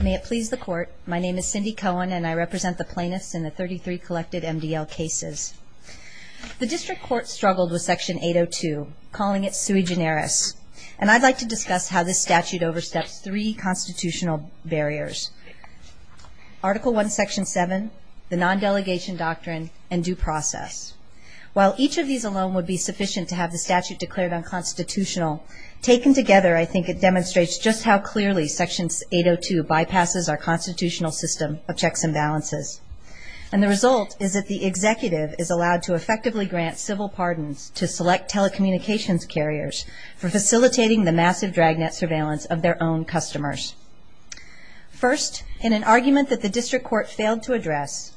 May it please the Court, my name is Cindy Cohen and I represent the plaintiffs in the 33 collected MDL cases. The District Court struggled with Section 802, calling it sui generis, and I'd like to discuss how this statute oversteps three constitutional barriers. Article 1, Section 7, the non-delegation doctrine, and due process. While each of these alone would be sufficient to have the statute declared unconstitutional, taken together I think it demonstrates just how clearly Section 802 bypasses our constitutional system of checks and balances. And the result is that the executive is allowed to effectively grant civil pardons to select telecommunications carriers for facilitating the massive dragnet surveillance of their own customers. First, in an argument that the District Court failed to address,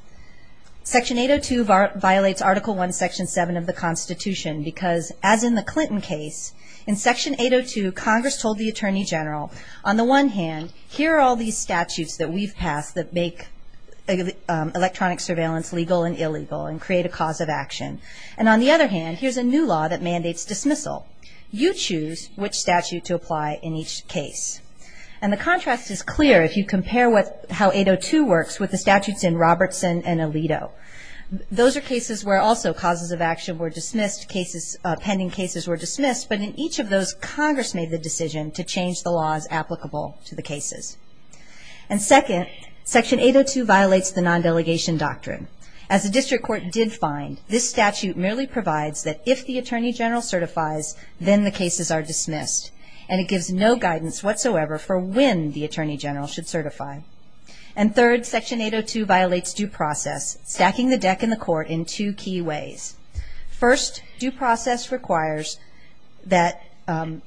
Section 802 violates Article 1, Section 7 of the Constitution because, as in the Clinton case, in Section 802 Congress told the Attorney General, on the one hand, here are all these statutes that we've passed that make electronic surveillance legal and illegal and create a cause of action. And on the other hand, here's a new law that mandates dismissal. You choose which statute to apply in each case. And the contrast is clear if you compare how 802 works with the statutes in Robertson and Alito. Those are cases where also causes of action were dismissed, pending cases were dismissed, but in each of those Congress made the decision to change the laws applicable to the cases. And second, Section 802 violates the non-delegation doctrine. As the District Court did find, this statute merely provides that if the Attorney General certifies, then the cases are dismissed. And it gives no guidance whatsoever for when the Attorney General should certify. And third, Section 802 violates due process, stacking the deck in the court in two key ways. First, due process requires that an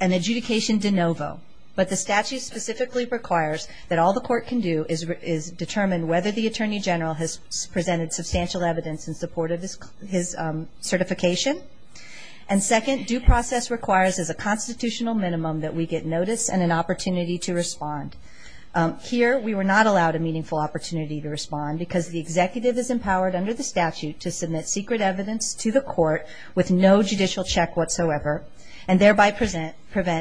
adjudication de novo, but the statute specifically requires that all the court can do is determine whether the Attorney General has presented substantial evidence in support of his certification. And second, due process requires as a constitutional minimum that we get notice and an opportunity to respond. Here, we were not allowed a meaningful opportunity to respond because the executive is empowered under the statute to submit secret evidence to the court with no judicial check whatsoever, and thereby prevent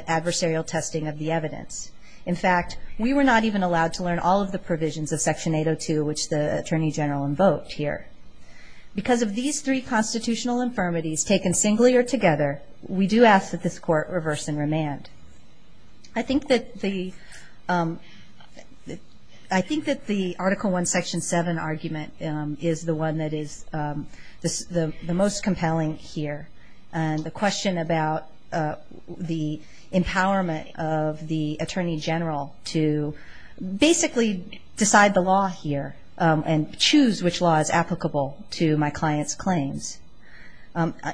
adversarial testing of the evidence. In fact, we were not even allowed to learn all of the provisions of Section 802, which the Attorney General invoked here. Because of these three constitutional infirmities taken singly or together, we do ask that this court reverse and remand. I think that the Article I, Section 7 argument is the one that is the most compelling here. And the question about the empowerment of the Attorney General to basically decide the law here and choose which law is applicable to my client's claims.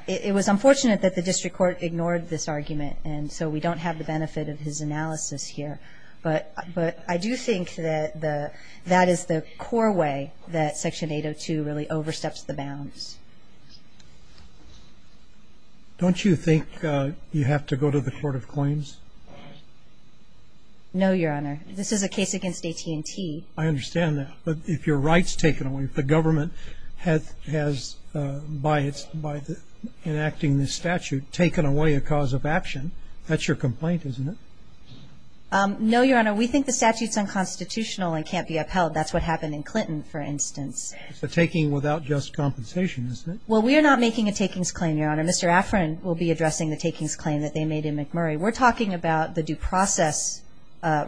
It was unfortunate that the district court ignored this argument, and so we don't have the benefit of his analysis here. But I do think that that is the core way that Section 802 really oversteps the bounds. Don't you think you have to go to the Court of Claims? No, Your Honor. This is a case against AT&T. I understand that. But if your right's taken away, if the government has, by enacting this statute, taken away a cause of action, that's your complaint, isn't it? No, Your Honor. We think the statute's unconstitutional and can't be upheld. That's what happened in Clinton, for instance. It's a taking without just compensation, isn't it? Well, we are not making a takings claim, Your Honor. Mr. Affran will be addressing the takings claim that they made in McMurray. We're talking about the due process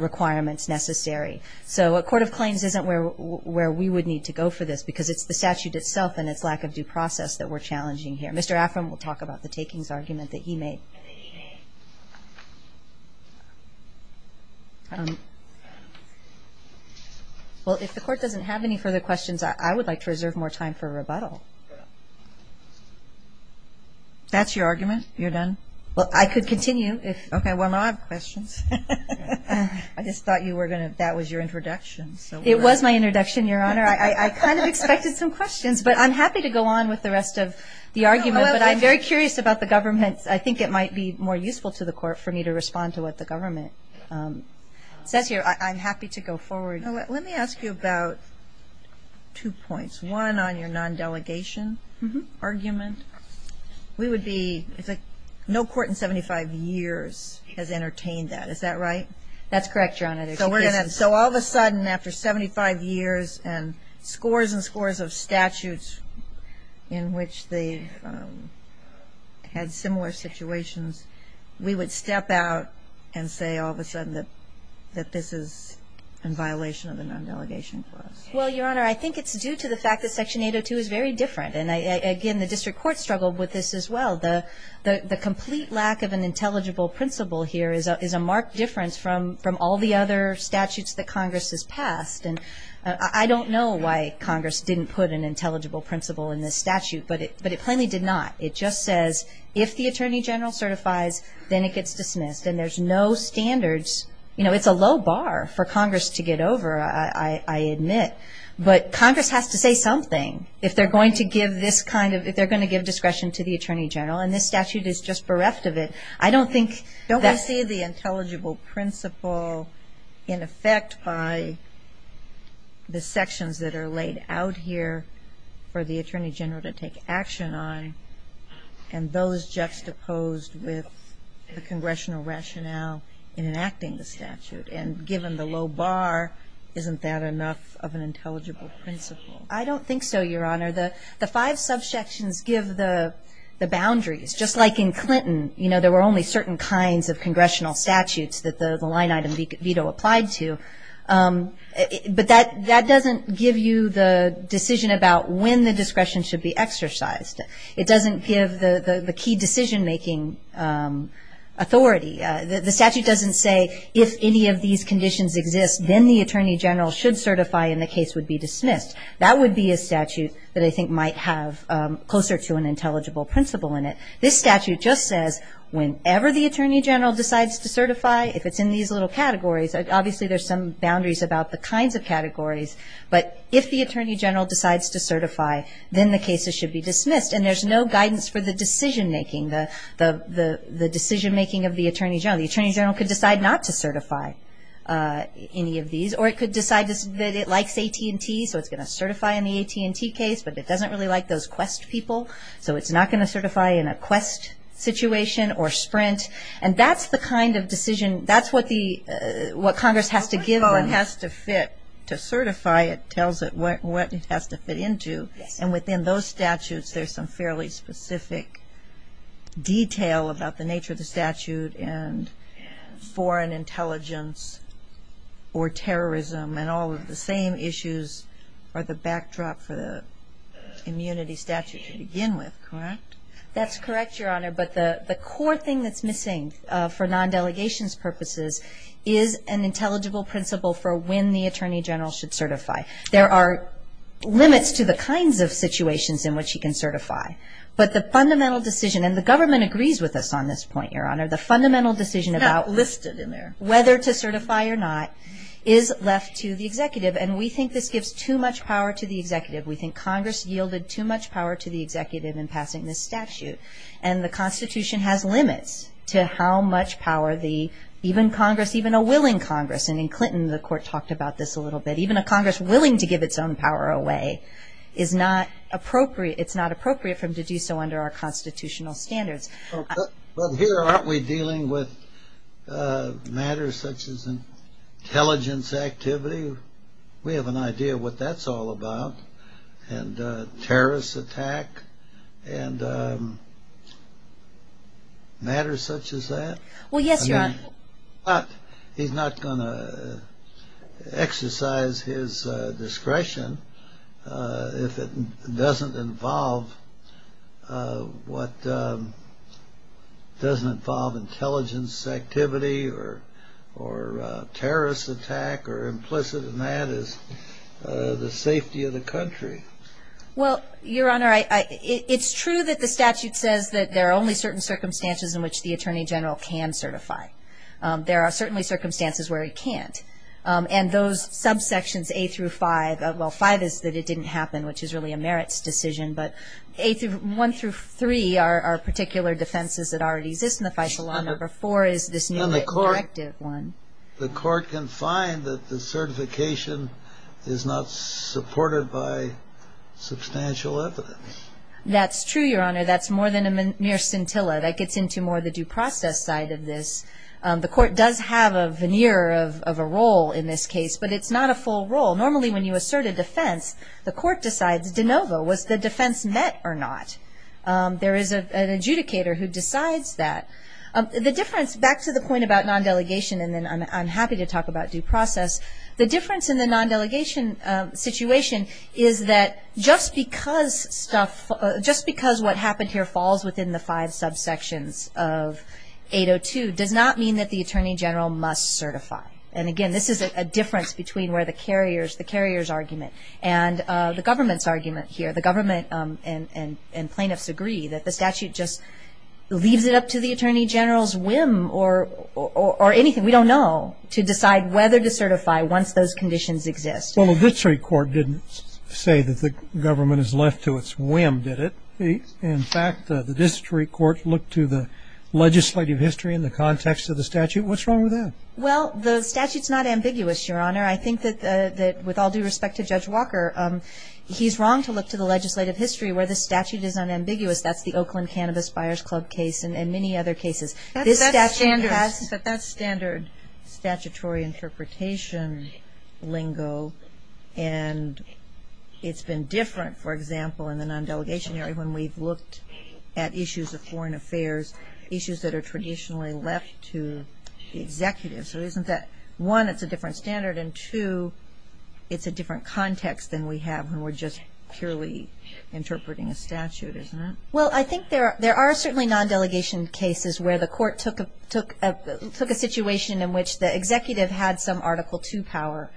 requirements necessary. So a Court of Claims isn't where we would need to go for this because it's the statute itself and its lack of due process that we're challenging here. Mr. Affran will talk about the takings argument that you made. Well, if the Court doesn't have any further questions, I would like to reserve more time for rebuttal. That's your argument? You're done? Well, I could continue. Okay. Well, now I have questions. I just thought that was your introduction. It was my introduction, Your Honor. I kind of expected some questions, but I'm happy to go on with the rest of the argument. But I'm very curious about the government. I think it might be more useful to the Court for me to respond to what the government says here. I'm happy to go forward. Let me ask you about two points. One, on your non-delegation argument. We would be no court in 75 years has entertained that. Is that right? That's correct, Your Honor. So all of a sudden, after 75 years and scores and scores of statutes in which they've had similar situations, we would step out and say all of a sudden that this is in violation of the non-delegation clause. Well, Your Honor, I think it's due to the fact that Section 802 is very different. And again, the district court struggled with this as well. The complete lack of an intelligible principle here is a marked difference from all the other statutes that Congress has passed. And I don't know why Congress didn't put an intelligible principle in this statute, but it plainly did not. It just says if the Attorney General certifies, then it gets dismissed. And there's no standards. You know, it's a low bar for Congress to get over, I admit. But Congress has to say something. If they're going to give this kind of – if they're going to give discretion to the Attorney General, and this statute is just bereft of it, I don't think that's – I see the intelligible principle in effect by the sections that are laid out here for the Attorney General to take action on and those juxtaposed with the congressional rationale in enacting the statute. And given the low bar, isn't that enough of an intelligible principle? I don't think so, Your Honor. The five subsections give the boundaries. Just like in Clinton, you know, there were only certain kinds of congressional statutes that the line item veto applied to. But that doesn't give you the decision about when the discretion should be exercised. It doesn't give the key decision-making authority. The statute doesn't say if any of these conditions exist, then the Attorney General should certify and the case would be dismissed. That would be a statute that I think might have closer to an intelligible principle in it. This statute just says whenever the Attorney General decides to certify, if it's in these little categories, obviously there's some boundaries about the kinds of categories, but if the Attorney General decides to certify, then the cases should be dismissed and there's no guidance for the decision-making, the decision-making of the Attorney General. The Attorney General could decide not to certify any of these or it could decide that it likes AT&T, so it's going to certify in the AT&T case, but it doesn't really like those Quest people, so it's not going to certify in a Quest situation or Sprint. And that's the kind of decision, that's what Congress has to give them. Oh, it has to fit. To certify, it tells it what it has to fit into. And within those statutes, there's some fairly specific detail about the nature of the statute and foreign intelligence or terrorism and all of the same issues are the backdrops of the immunity statute to begin with, correct? That's correct, Your Honor, but the core thing that's missing for non-delegations purposes is an intelligible principle for when the Attorney General should certify. There are limits to the kinds of situations in which he can certify, but the fundamental decision, and the government agrees with us on this point, Your Honor, the fundamental decision about whether to certify or not is left to the executive. And we think this gives too much power to the executive. We think Congress yielded too much power to the executive in passing this statute. And the Constitution has limits to how much power the, even Congress, even a willing Congress, and in Clinton the Court talked about this a little bit, even a Congress willing to give its own power away is not appropriate, it's not appropriate for them to do so under our constitutional standards. Well, here aren't we dealing with matters such as intelligence activity? We have an idea what that's all about. And terrorist attack and matters such as that. Well, yes, Your Honor. He's not going to exercise his discretion if it doesn't involve what doesn't involve intelligence activity or terrorist attack or implicit in that is the safety of the country. Well, Your Honor, it's true that the statute says that there are only certain circumstances in which the Attorney General can certify. There are certainly circumstances where he can't. And those subsections A through 5, well, 5 is that it didn't happen, which is really a merits decision, but 1 through 3 are particular defenses that already exist in the Fisher Law. Number 4 is this new directive one. The Court can find that the certification is not supported by substantial evidence. That's true, Your Honor. That's more than a mere scintilla. That gets into more the due process side of this. The Court does have a veneer of a role in this case, but it's not a full role. Normally when you assert a defense, the Court decides de novo, was the defense met or not? There is an adjudicator who decides that. The difference, back to the point about non-delegation, and then I'm happy to talk about due process, the difference in the non-delegation situation is that just because what happened here falls within the five subsections of 802 does not mean that the Attorney General must certify. And again, this is a difference between where the carrier's argument and the government's argument here. The government and plaintiffs agree that the statute just leaves it up to the Attorney General's whim or anything, we don't know, to decide whether to certify once those conditions exist. Well, the District Court didn't say that the government is left to its whim, did it? In fact, the District Court looked to the legislative history in the context of the statute. What's wrong with that? Well, the statute's not ambiguous, Your Honor. I think that with all due respect to Judge Walker, he's wrong to look to the legislative history where the statute is unambiguous. That's the Oakland Cannabis Buyers Club case and many other cases. That's standard statutory interpretation lingo and it's been different, for example, in the non-delegation area when we've looked at issues of foreign affairs, issues that are traditionally left to the executive. So isn't that, one, it's a different standard and two, it's a different context than we have when we're just purely interpreting a statute, isn't it? Well, I think there are certainly non-delegation cases where the court took a situation in which the executive had some Article II power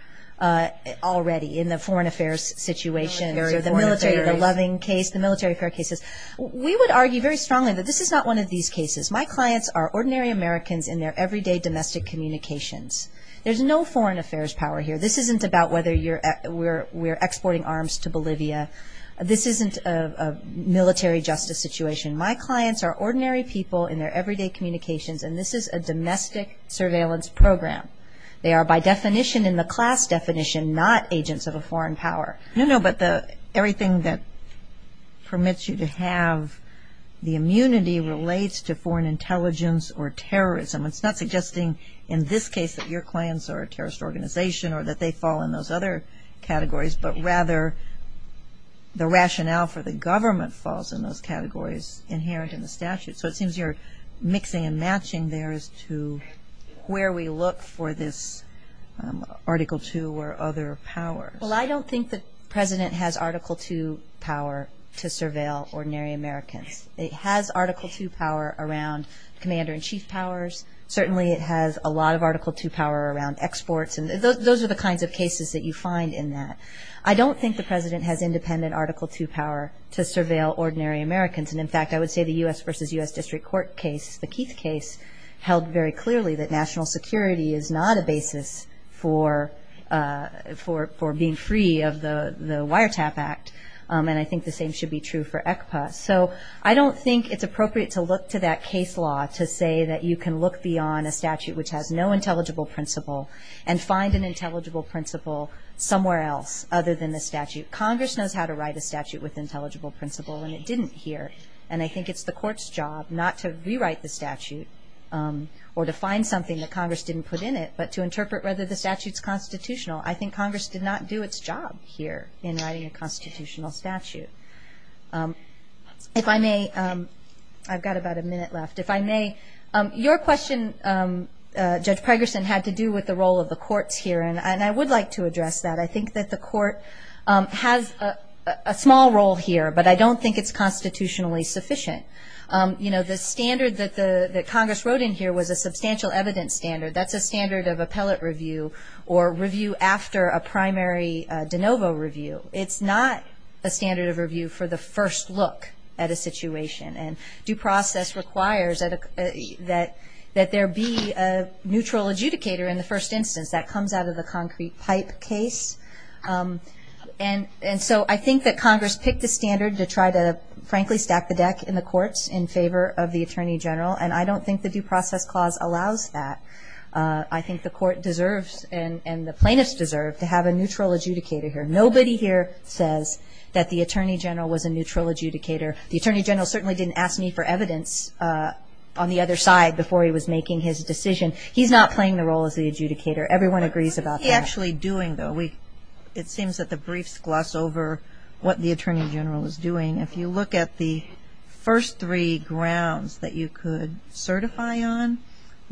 already in the foreign affairs situation or the military, the loving case, the military affair cases. We would argue very strongly that this is not one of these cases. My clients are ordinary Americans in their everyday domestic communications. There's no foreign affairs power here. This isn't about whether we're exporting arms to Bolivia. This isn't a military justice situation. My clients are ordinary people in their everyday communications and this is a domestic surveillance program. They are, by definition, in the class definition, not agents of a foreign power. No, no, but everything that permits you to have the immunity relates to foreign intelligence or terrorism. It's not suggesting, in this case, that your clients are a terrorist organization or that they fall in those other categories but rather the rationale for the government falls in those categories inherent in the statute. So it seems you're mixing and matching theirs to where we look for this Article II or other power. Well, I don't think the president has Article II power to surveil ordinary Americans. It has Article II power around commander-in-chief powers. Certainly it has a lot of Article II power around exports and those are the kinds of cases that you find in that. I don't think the president has independent Article II power to surveil ordinary Americans. And, in fact, I would say the U.S. v. U.S. District Court case, the Keith case, held very clearly that national security is not a basis for being free of the Wiretap Act and I think the same should be true for ECPA. So I don't think it's appropriate to look to that case law to say that you can look beyond a statute which has no intelligible principle and find an intelligible principle somewhere else other than the statute. Congress knows how to write a statute with intelligible principle and it didn't here and I think it's the court's job not to rewrite the statute or to find something that Congress didn't put in it but to interpret whether the statute's constitutional. I think Congress did not do its job here in writing a constitutional statute. If I may, I've got about a minute left. If I may, your question, Judge Pregerson, had to do with the role of the courts here and I would like to address that. I think that the court has a small role here but I don't think it's constitutionally sufficient. You know, the standard that Congress wrote in here was a substantial evidence standard. That's a standard of appellate review or review after a primary de novo review. It's not a standard of review for the first look at a situation and due process requires that there be a neutral adjudicator in the first instance. That comes out of the concrete pipe case. And so I think that Congress picked a standard to try to, frankly, stack the deck in the courts in favor of the attorney general and I don't think the due process clause allows that. I think the court deserves and the plaintiffs deserve to have a neutral adjudicator here. Nobody here says that the attorney general was a neutral adjudicator. The attorney general certainly didn't ask me for evidence on the other side before he was making his decision. He's not playing the role of the adjudicator. Everyone agrees about that. He's actually doing though. It seems that the briefs gloss over what the attorney general is doing. If you look at the first three grounds that you could certify on,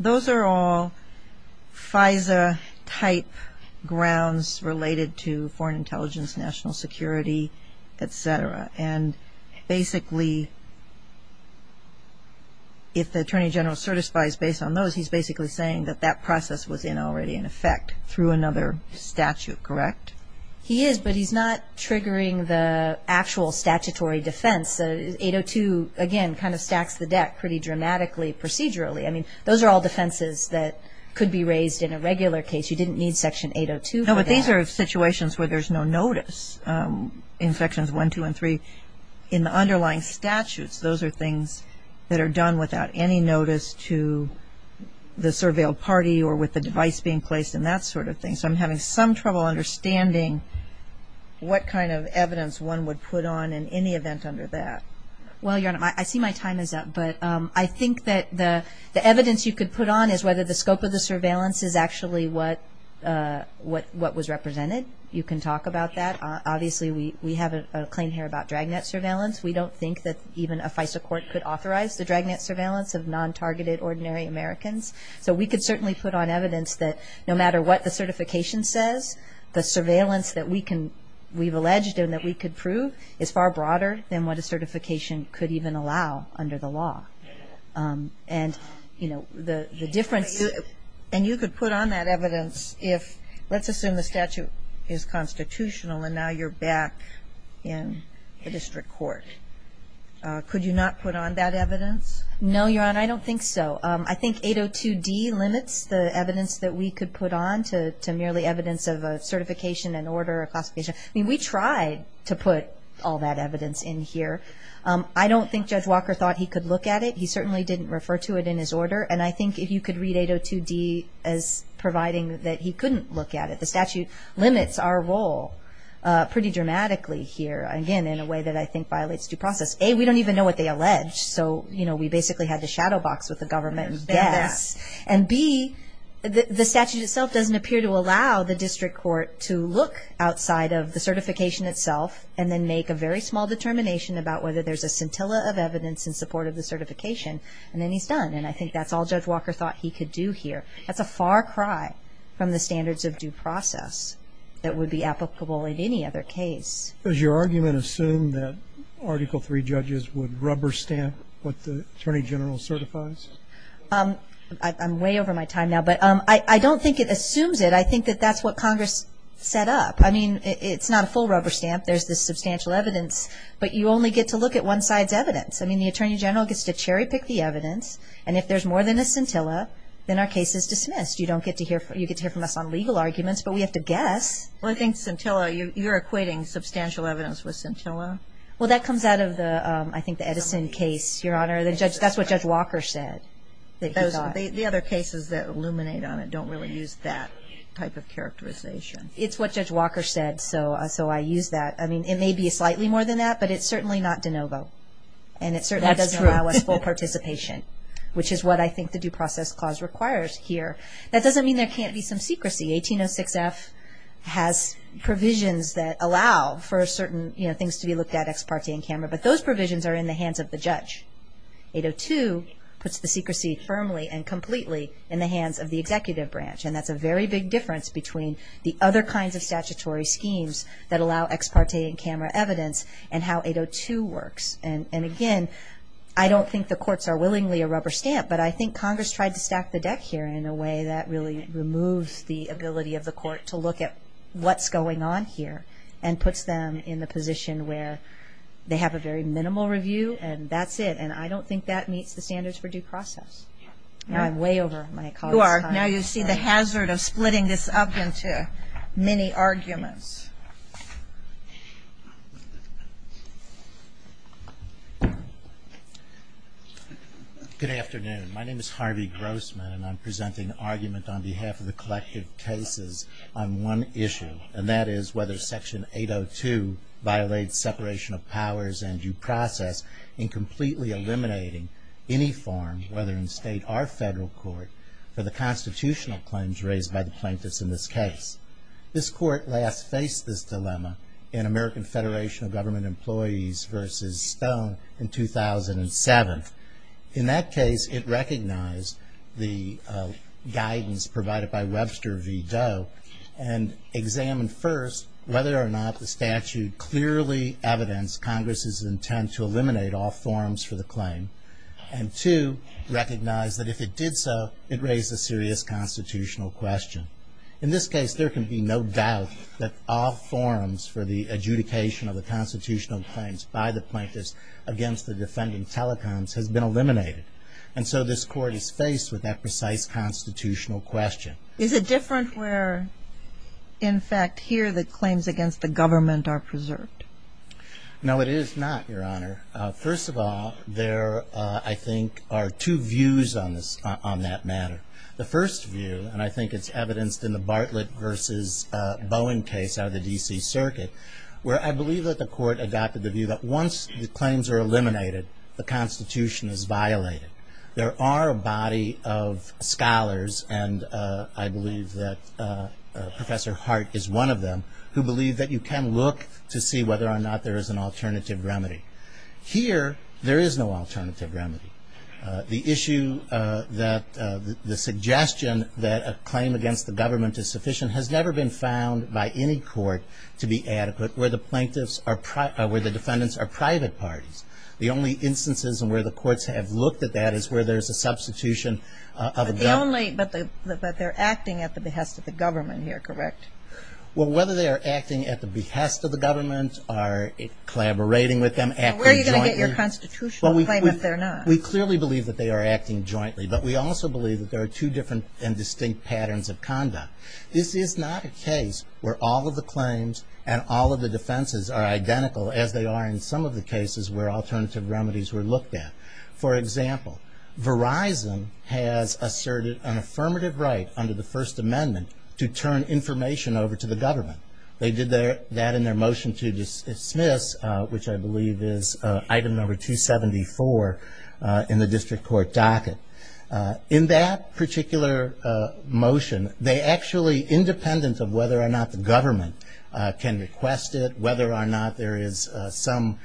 those are all FISA-type grounds related to foreign intelligence, national security, et cetera. And basically, if the attorney general certifies based on those, he's basically saying that that process was in already in effect through another statute, correct? He is, but he's not triggering the actual statutory defense. 802, again, kind of stacks the deck pretty dramatically procedurally. I mean, those are all defenses that could be raised in a regular case. You didn't need Section 802 for that. No, but these are situations where there's no notice in Sections 1, 2, and 3. In the underlying statutes, those are things that are done without any notice to the surveilled party or with the device being placed and that sort of thing. So I'm having some trouble understanding what kind of evidence one would put on in any event under that. Well, Your Honor, I see my time is up, but I think that the evidence you could put on is whether the scope of the surveillance is actually what was represented. You can talk about that. Obviously, we have a claim here about dragnet surveillance. We don't think that even a FISA court could authorize the dragnet surveillance of non-targeted ordinary Americans. So we could certainly put on evidence that no matter what the certification says, the surveillance that we've alleged and that we could prove is far broader than what a certification could even allow under the law. And, you know, the difference... And you could put on that evidence if, let's assume the statute is constitutional and now you're back in the district court. Could you not put on that evidence? No, Your Honor, I don't think so. I think 802D limits the evidence that we could put on to merely evidence of a certification, an order, a classification. I mean, we tried to put all that evidence in here. I don't think Judge Walker thought he could look at it. He certainly didn't refer to it in his order. And I think if you could read 802D as providing that he couldn't look at it. The statute limits our role pretty dramatically here, again, in a way that I think violates due process. A, we don't even know what they allege. So, you know, we basically had to shadow box what the government guessed. And B, the statute itself doesn't appear to allow the district court to look outside of the certification itself and then make a very small determination about whether there's a scintilla of evidence in support of the certification. And then he's done. And I think that's all Judge Walker thought he could do here. That's a far cry from the standards of due process that would be applicable in any other case. Does your argument assume that Article III judges would rubber stamp what the Attorney General certifies? I'm way over my time now. But I don't think it assumes it. I think that that's what Congress set up. I mean, it's not a full rubber stamp. There's the substantial evidence. But you only get to look at one side's evidence. I mean, the Attorney General gets to cherry pick the evidence. And if there's more than a scintilla, then our case is dismissed. You don't get to hear from us on legal arguments, but we have to guess. Well, I think scintilla, you're equating substantial evidence with scintilla? Well, that comes out of the, I think, the Edison case, Your Honor. That's what Judge Walker said. The other cases that illuminate on it don't really use that type of characterization. It's what Judge Walker said, so I use that. I mean, it may be slightly more than that, but it's certainly not de novo. And it certainly doesn't allow us full participation, which is what I think the due process clause requires here. That doesn't mean there can't be some secrecy. The 1806 F has provisions that allow for certain things to be looked at ex parte in camera, but those provisions are in the hands of the judge. 802 puts the secrecy firmly and completely in the hands of the executive branch, and that's a very big difference between the other kinds of statutory schemes that allow ex parte in camera evidence and how 802 works. And, again, I don't think the courts are willingly a rubber stamp, but I think Congress tried to stack the deck here in a way that really removes the ability of the court to look at what's going on here and puts them in the position where they have a very minimal review, and that's it, and I don't think that meets the standards for due process. I'm way over my call. You are. Now you see the hazard of splitting this up into many arguments. Good afternoon. My name is Harvey Grossman, and I'm presenting an argument on behalf of the collective cases on one issue, and that is whether Section 802 violates separation of powers and due process in completely eliminating any forms, whether in state or federal court, for the constitutional claims raised by the plaintiffs in this case. This court last faced this dilemma in American Federation of Government Employees versus Stone in 2007. In that case, it recognized the guidance provided by Webster v. Doe and examined first whether or not the statute clearly evidenced Congress's intent to eliminate all forms for the claim and, two, recognized that if it did so, it raised a serious constitutional question. In this case, there can be no doubt that all forms for the adjudication of the constitutional claims by the plaintiffs against the defending telecoms have been eliminated, and so this court is faced with that precise constitutional question. Is it different where, in fact, here the claims against the government are preserved? No, it is not, Your Honor. First of all, there, I think, are two views on that matter. The first view, and I think it's evidenced in the Bartlett v. Bowen case out of the D.C. Circuit, where I believe that the court adopted the view that once the claims are eliminated, the Constitution is violated. There are a body of scholars, and I believe that Professor Hart is one of them, who believe that you can look to see whether or not there is an alternative remedy. Here, there is no alternative remedy. The issue that, the suggestion that a claim against the government is sufficient has never been found by any court to be adequate where the plaintiffs are, where the defendants are private parties. The only instances where the courts have looked at that is where there is a substitution of adults. The only, but they're acting at the behest of the government here, correct? Well, whether they are acting at the behest of the government or collaborating with them, acting jointly. We clearly believe that they are acting jointly, but we also believe that there are two different and distinct patterns of conduct. This is not a case where all of the claims and all of the defenses are identical as they are in some of the cases where alternative remedies were looked at. For example, Verizon has asserted an affirmative right under the First Amendment to turn information over to the government. They did that in their motion to dismiss, which I believe is item number 274 in the district court docket. In that particular motion, they actually, independent of whether or not the government can request it, whether or not there is some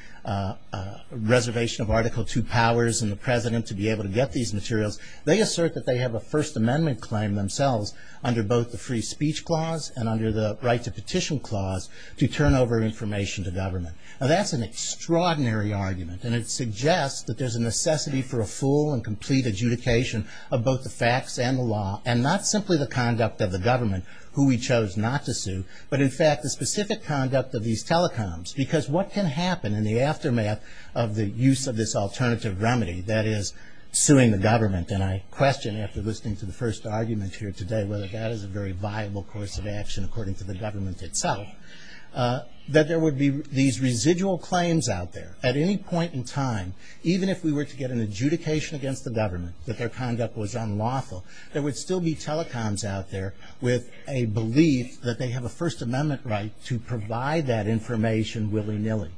reservation of Article II powers in the President to be able to get these materials, they assert that they have a First Amendment claim themselves under both the Free Speech Clause and under the Right to Petition Clause to turn over information to government. Now, that's an extraordinary argument, and it suggests that there's a necessity for a full and complete adjudication of both the facts and the law and not simply the conduct of the government, who we chose not to sue, but in fact, the specific conduct of these telecoms, because what can happen in the aftermath of the use of this alternative remedy that is suing the government? And I question, after listening to the first argument here today, whether that is a very viable course of action according to the government itself, that there would be these residual claims out there. At any point in time, even if we were to get an adjudication against the government, that their conduct was unlawful, there would still be telecoms out there with a belief that they have a First Amendment right to provide that information willy-nilly.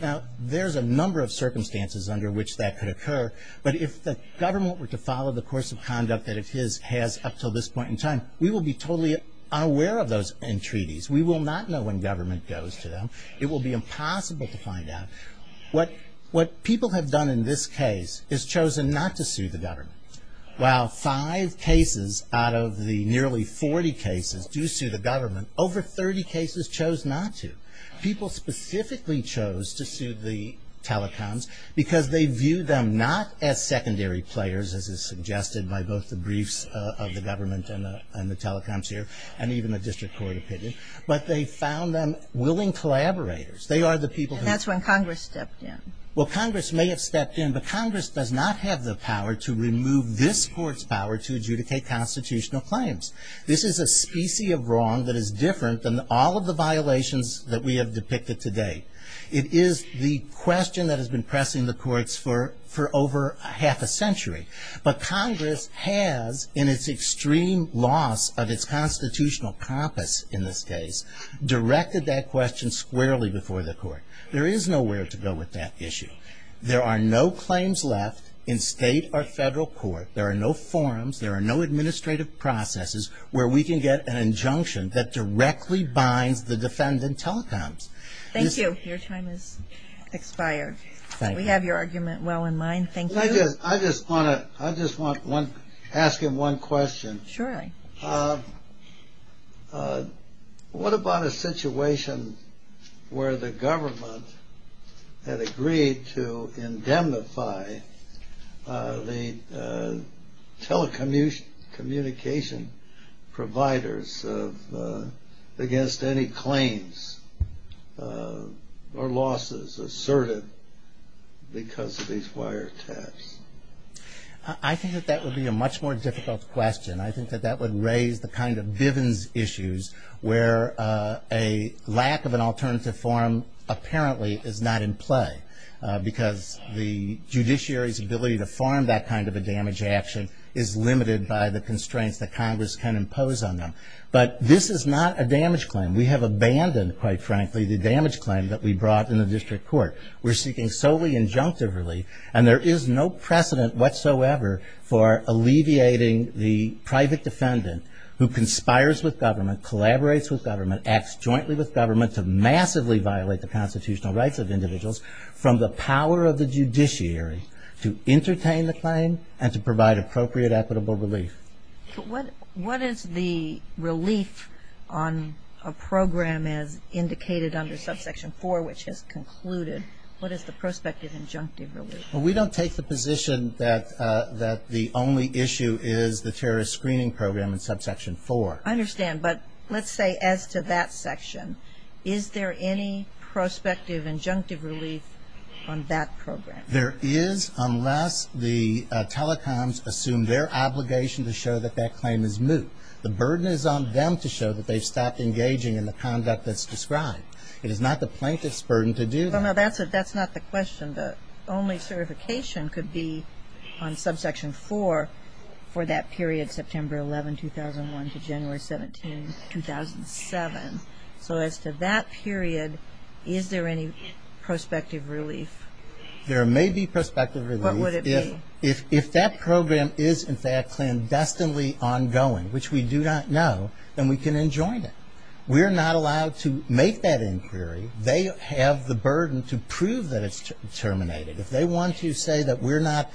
Now, there's a number of circumstances under which that could occur, but if the government were to follow the course of conduct that it has up until this point in time, we will be totally unaware of those entreaties. We will not know when government goes to them. It will be impossible to find out. What people have done in this case is chosen not to sue the government. While five cases out of the nearly 40 cases do sue the government, over 30 cases chose not to. People specifically chose to sue the telecoms because they view them not as secondary players, as is suggested by both the briefs of the government and the telecoms here, and even the district court opinion, but they found them willing collaborators. They are the people who... That's when Congress stepped in. Well, Congress may have stepped in, but Congress does not have the power to remove this court's power to adjudicate constitutional claims. This is a specie of wrong that is different than all of the violations that we have depicted today. It is the question that has been pressing the courts for over half a century, but Congress has, in its extreme loss of its constitutional compass in this case, directed that question squarely before the court. There is nowhere to go with that issue. There are no claims left in state or federal court. There are no forums. There are no administrative processes where we can get an injunction that directly binds the defendant telecoms. Thank you. Your time has expired. We have your argument well in mind. Thank you. I just want to ask you one question. Sure. What about a situation where the government had agreed to indemnify the telecommunication providers against any claims or losses asserted because of these wire attacks? I think that that would be a much more difficult question. I think that that would raise the kind of Bivens issues where a lack of an alternative forum apparently is not in play because the judiciary's ability to form that kind of a damage action is limited by the constraints that Congress can impose on them. But this is not a damage claim. We have abandoned, quite frankly, the damage claim that we brought in the district court. We're seeking solely injunctive relief. And there is no precedent whatsoever for alleviating the private defendant who conspires with government, collaborates with government, acts jointly with government to massively violate the constitutional rights of individuals from the power of the judiciary to entertain the claim and to provide appropriate, equitable relief. What is the relief on a program as indicated under Subsection 4, which has concluded? What is the prospective injunctive relief? Well, we don't take the position that the only issue is the terrorist screening program in Subsection 4. I understand. But let's say as to that section, is there any prospective injunctive relief on that program? There is unless the telecoms assume their obligation to show that that claim is moot. The burden is on them to show that they stopped engaging in the conduct that's described. It is not the plaintiff's burden to do that. Well, no, that's not the question. The only certification could be on Subsection 4 for that period, September 11, 2001, to January 17, 2007. So as to that period, is there any prospective relief? There may be prospective relief. What would it be? If that program is, in fact, clandestinely ongoing, which we do not know, then we can enjoin it. We are not allowed to make that inquiry. They have the burden to prove that it's terminated. If they want to say that we're not,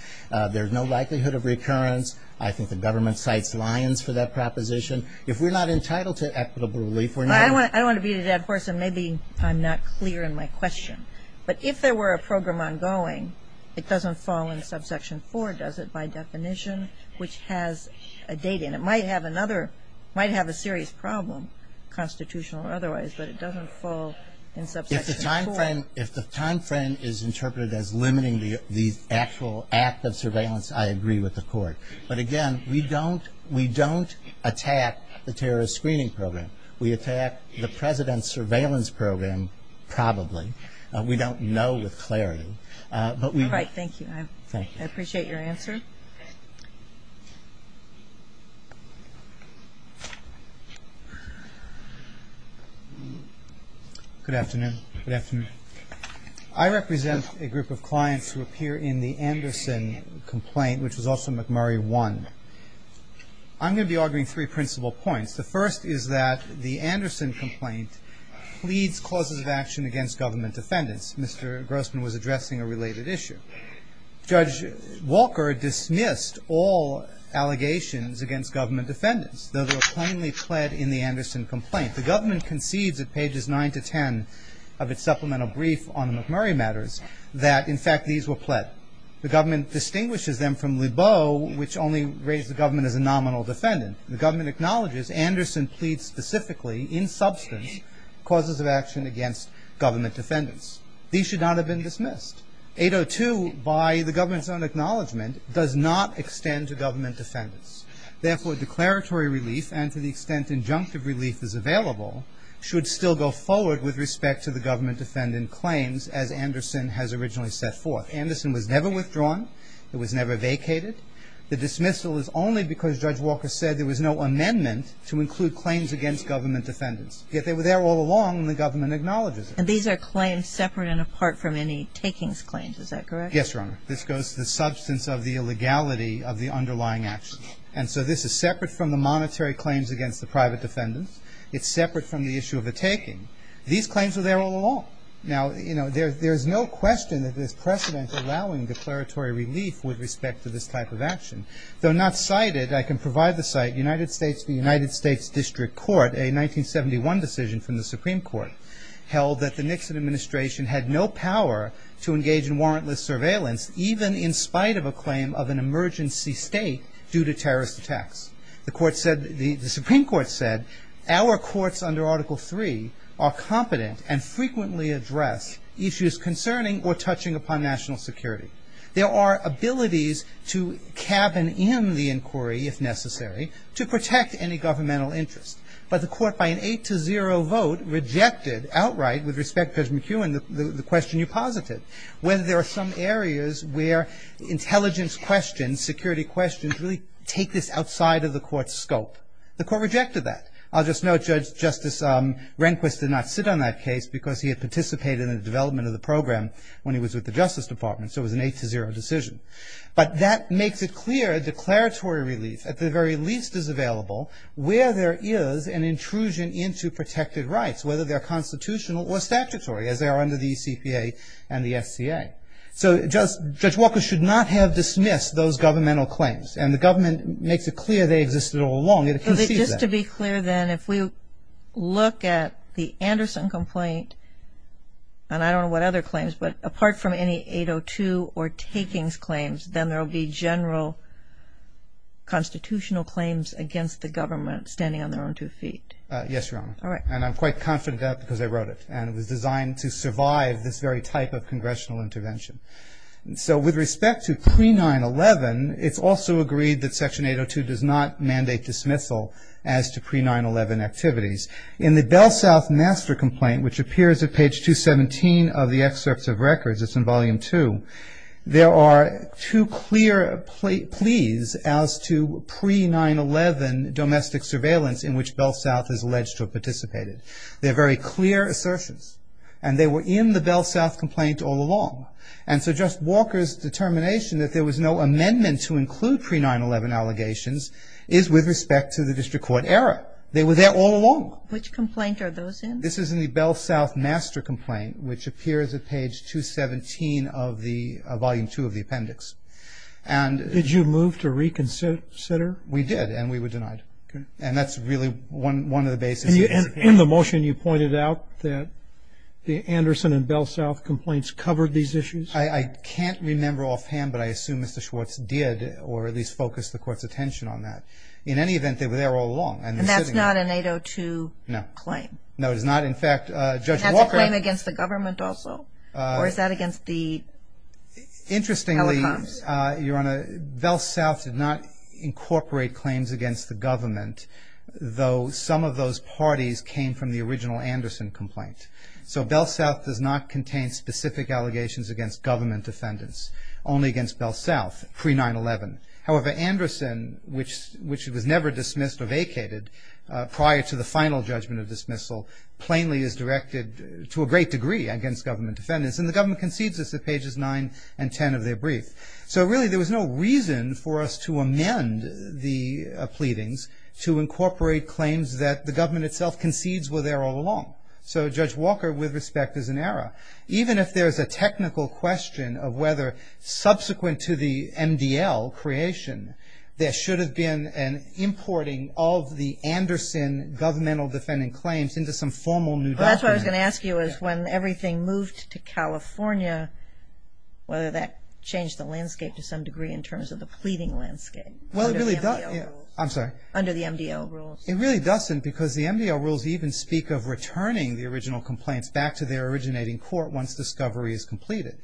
there's no likelihood of recurrence, I think the government cites Lyons for that proposition. If we're not entitled to equitable relief, we're not. I want to view that, of course, and maybe I'm not clear in my question. But if there were a program ongoing, it doesn't fall in Subsection 4, does it, by definition, which has a date in it? It might have a serious problem, constitutional or otherwise, but it doesn't fall in Subsection 4. If the timeframe is interpreted as limiting the actual act of surveillance, I agree with the Court. But again, we don't attack the terrorist screening program. We attack the President's surveillance program, probably. We don't know with clarity. All right, thank you. I appreciate your answer. Good afternoon. Good afternoon. I represent a group of clients who appear in the Anderson complaint, which was also McMurray 1. I'm going to be arguing three principal points. The first is that the Anderson complaint pleads causes of action against government defendants. Mr. Grossman was addressing a related issue. Judge Walker dismissed all allegations against government defendants. Those were plainly pled in the Anderson complaint. The government concedes at pages 9 to 10 of its supplemental brief on the McMurray matters that, in fact, these were pled. The government distinguishes them from Lebeau, which only raised the government as a nominal defendant. The government acknowledges Anderson pleads specifically, in substance, causes of action against government defendants. These should not have been dismissed. 802, by the government's own acknowledgement, does not extend to government defendants. Therefore, declaratory relief, and to the extent injunctive relief is available, should still go forward with respect to the government defendant claims as Anderson has originally set forth. Anderson was never withdrawn. It was never vacated. The dismissal is only because Judge Walker said there was no amendment to include claims against government defendants. Yet they were there all along, and the government acknowledges it. And these are claims separate and apart from any takings claims. Is that correct? Yes, Your Honor. This goes to the substance of the illegality of the underlying action. And so this is separate from the monetary claims against the private defendants. It's separate from the issue of a taking. These claims were there all along. Now, you know, there's no question that there's precedent allowing declaratory relief with respect to this type of action. Though not cited, I can provide the site, United States District Court, a 1971 decision from the Supreme Court, held that the Nixon administration had no power to engage in warrantless surveillance, even in spite of a claim of an emergency state due to terrorist attacks. The Supreme Court said, our courts under Article III are competent and frequently address issues concerning or touching upon national security. There are abilities to cabin in the inquiry, if necessary, to protect any governmental interest. But the court, by an 8-0 vote, rejected outright, with respect to McEwen, the question you posited, whether there are some areas where intelligence questions, security questions, really take this outside of the court's scope. The court rejected that. I'll just note, Judge Justice Rehnquist did not sit on that case because he had participated in the development of the program when he was with the Justice Department. So it was an 8-0 decision. But that makes it clear a declaratory relief, at the very least, is available, where there is an intrusion into protected rights, whether they're constitutional or statutory, as they are under the ECPA and the FCA. So Judge Walker should not have dismissed those governmental claims. And the government makes it clear they existed all along. Just to be clear then, if we look at the Anderson complaint, and I don't know what other claims, but apart from any 8-0-2 or takings claims, then there will be general constitutional claims against the government standing on their own two feet. Yes, Your Honor. And I'm quite confident of that because I wrote it. And it was designed to survive this very type of congressional intervention. So with respect to pre-9-11, it's also agreed that Section 8-0-2 does not mandate dismissal as to pre-9-11 activities. In the Bell South master complaint, which appears at page 217 of the excerpts of records, it's in Volume 2, there are two clear pleas as to pre-9-11 domestic surveillance in which Bell South is alleged to have participated. They're very clear assertions. And they were in the Bell South complaint all along. And so Judge Walker's determination that there was no amendment to include pre-9-11 allegations is with respect to the district court error. They were there all along. Which complaint are those in? This is in the Bell South master complaint, which appears at page 217 of Volume 2 of the appendix. Did you move to reconsider? And that's really one of the basic reasons. In the motion, you pointed out that the Anderson and Bell South complaints covered these issues? I can't remember offhand, but I assume Mr. Schwartz did, or at least focused the court's attention on that. In any event, they were there all along. And that's not an 8-0-2 claim? No. No, it is not. In fact, Judge Walker... Is that a claim against the government also? Or is that against the telecoms? Interestingly, Your Honor, Bell South did not incorporate claims against the government, though some of those parties came from the original Anderson complaint. So Bell South does not contain specific allegations against government defendants, only against Bell South pre-9-11. However, Anderson, which was never dismissed or vacated prior to the final judgment of dismissal, plainly is directed to a great degree against government defendants. And the government concedes this at pages 9 and 10 of their brief. So really there was no reason for us to amend the pleadings to incorporate claims that the government itself concedes were there all along. So Judge Walker, with respect, is in error. Even if there's a technical question of whether subsequent to the MDL creation, there should have been an importing of the Anderson governmental defending claims into some formal new document. Well, that's what I was going to ask you is when everything moved to California, whether that changed the landscape to some degree in terms of the pleading landscape under the MDL rules. It really doesn't because the MDL rules even speak of returning the original complaints back to their originating court once discovery is completed.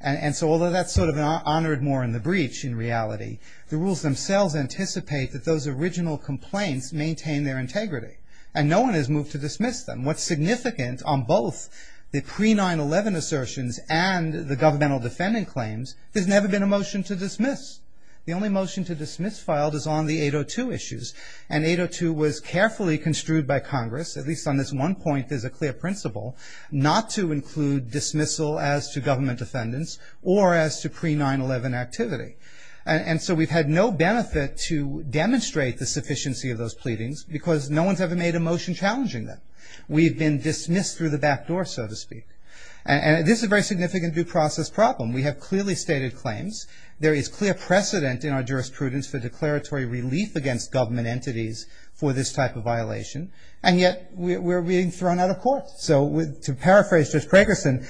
And so although that's sort of honored more in the breach in reality, the rules themselves anticipate that those original complaints maintain their integrity. And no one has moved to dismiss them. What's significant on both the pre-9-11 assertions and the governmental defending claims, there's never been a motion to dismiss. The only motion to dismiss filed is on the 802 issues. And 802 was carefully construed by Congress, at least on this one point, as a clear principle not to include dismissal as to government defendants or as to pre-9-11 activity. And so we've had no benefit to demonstrate the sufficiency of those pleadings because no one's ever made a motion challenging them. We've been dismissed through the back door, so to speak. And this is a very significant due process problem. We have clearly stated claims. There is clear precedent in our jurisprudence for declaratory relief against government entities for this type of violation. And yet we're being thrown out of court. So to paraphrase Judge Craigerson,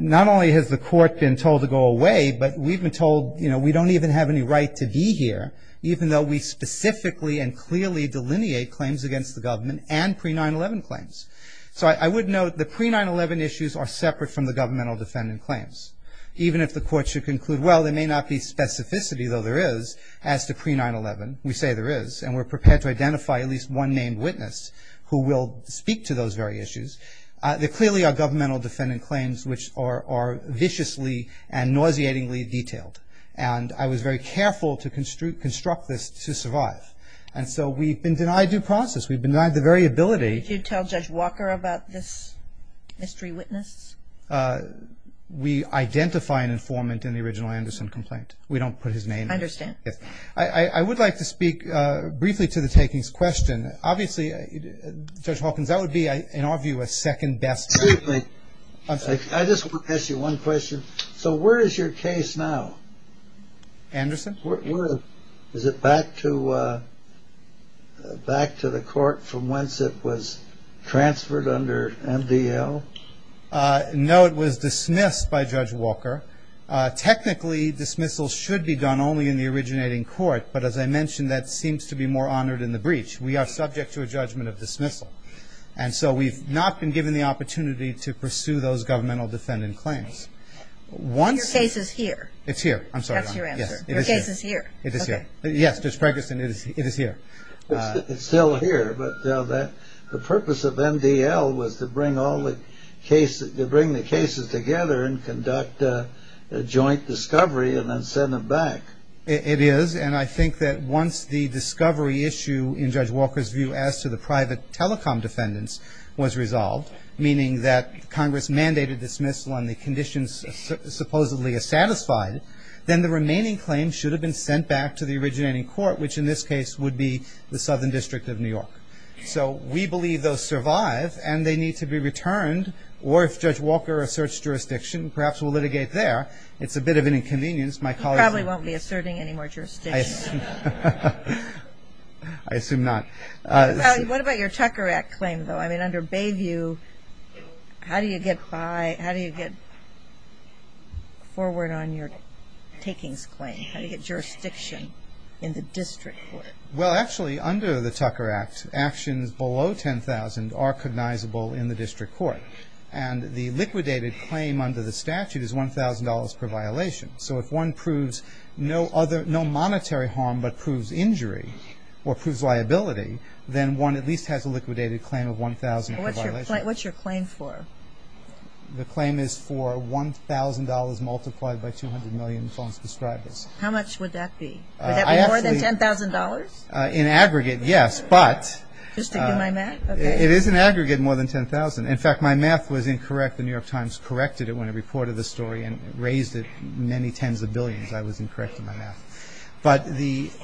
not only has the court been told to go away, but we've been told, you know, we don't even have any right to be here, even though we specifically and clearly delineate claims against the government and pre-9-11 claims. So I would note the pre-9-11 issues are separate from the governmental defendant claims. Even if the court should conclude, well, there may not be specificity, though there is, as to pre-9-11, we say there is, and we're prepared to identify at least one named witness who will speak to those very issues, there clearly are governmental defendant claims which are viciously and nauseatingly detailed. And I was very careful to construct this to survive. And so we've been denied due process. We've been denied the very ability. Did you tell Judge Walker about this mystery witness? We identify an informant in the original Anderson complaint. We don't put his name. I understand. I would like to speak briefly to the takings question. Obviously, Judge Hawkins, that would be, in our view, a second best case. Excuse me. I just want to ask you one question. So where is your case now? Anderson? Is it back to the court from whence it was transferred under MDL? No, it was dismissed by Judge Walker. Technically, dismissal should be done only in the originating court, but as I mentioned, that seems to be more honored in the breach. We are subject to a judgment of dismissal. And so we've not been given the opportunity to pursue those governmental defendant claims. Your case is here? It's here. I'm sorry. Your case is here? It is here. Yes, Judge Ferguson, it is here. It's still here, but the purpose of MDL was to bring the cases together and conduct a joint discovery and then send them back. It is. And I think that once the discovery issue in Judge Walker's view as to the private telecom defendants was resolved, meaning that Congress mandated dismissal and the conditions supposedly are satisfied, then the remaining claims should have been sent back to the originating court, which in this case would be the Southern District of New York. So we believe those survive and they need to be returned, or if Judge Walker asserts jurisdiction, perhaps we'll litigate there. It's a bit of an inconvenience. You probably won't be asserting any more jurisdiction. I assume not. What about your Tucker Act claim, though? I mean, under Bayview, how do you get forward on your takings claim? How do you get jurisdiction in the district court? Well, actually, under the Tucker Act, actions below $10,000 are cognizable in the district court. And the liquidated claim under the statute is $1,000 per violation. So if one proves no other, no monetary harm but proves injury or proves liability, then one at least has a liquidated claim of $1,000 per violation. What's your claim for? The claim is for $1,000 multiplied by 200 million and so on and so forth. How much would that be? Would that be more than $10,000? In aggregate, yes, but... Just to do my math? It is in aggregate more than $10,000. In fact, my math was incorrect. The New York Times corrected it when it reported the story and raised it many tens of billions. I was incorrect in my math. But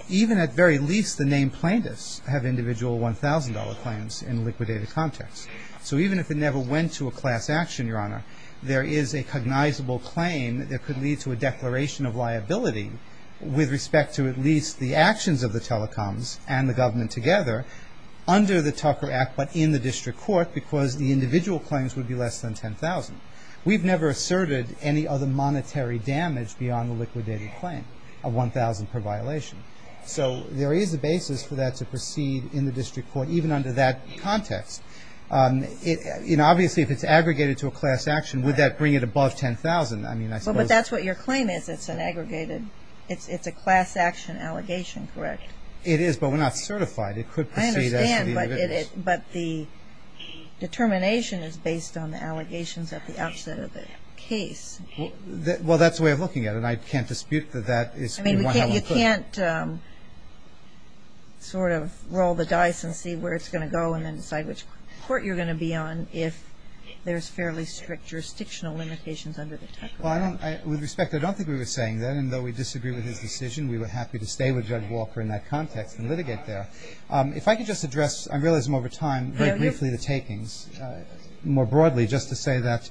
even at very least, the named plaintiffs have individual $1,000 claims in liquidated context. So even if it never went to a class action, Your Honor, there is a cognizable claim that could lead to a declaration of liability with respect to at least the actions of the telecoms and the government together under the Tucker Act but in the district court because the individual claims would be less than $10,000. We've never asserted any other monetary damage beyond the liquidated claim of $1,000 per violation. So there is a basis for that to proceed in the district court even under that context. Obviously, if it's aggregated to a class action, would that bring it above $10,000? But that's what your claim is. It's an aggregated... it's a class action allegation, correct? It is, but we're not certified. I understand, but the determination is based on the allegations at the outset of the case. Well, that's the way I'm looking at it. I can't dispute that. You can't sort of roll the dice and see where it's going to go and then decide which court you're going to be on if there's fairly strict jurisdictional limitations under the Tucker Act. With respect, I don't think we were saying that. And though we disagree with his decision, we were happy to stay with Judge Walker in that context and litigate there. If I could just address, I realize I'm over time, briefly the takings, more broadly, just to say that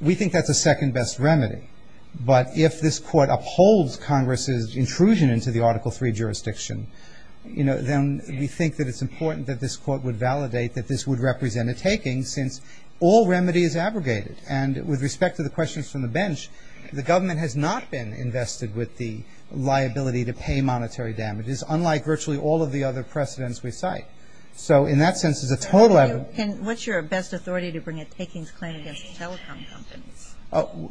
we think that's the second best remedy. But if this court upholds Congress's intrusion into the Article III jurisdiction, then we think that it's important that this court would validate that this would represent a taking since all remedy is aggregated. And with respect to the questions from the bench, the government has not been invested with the liability to pay monetary damages, unlike virtually all of the other precedents we cite. So in that sense, there's a total of... What's your best authority to bring a takings claim against the telecom company?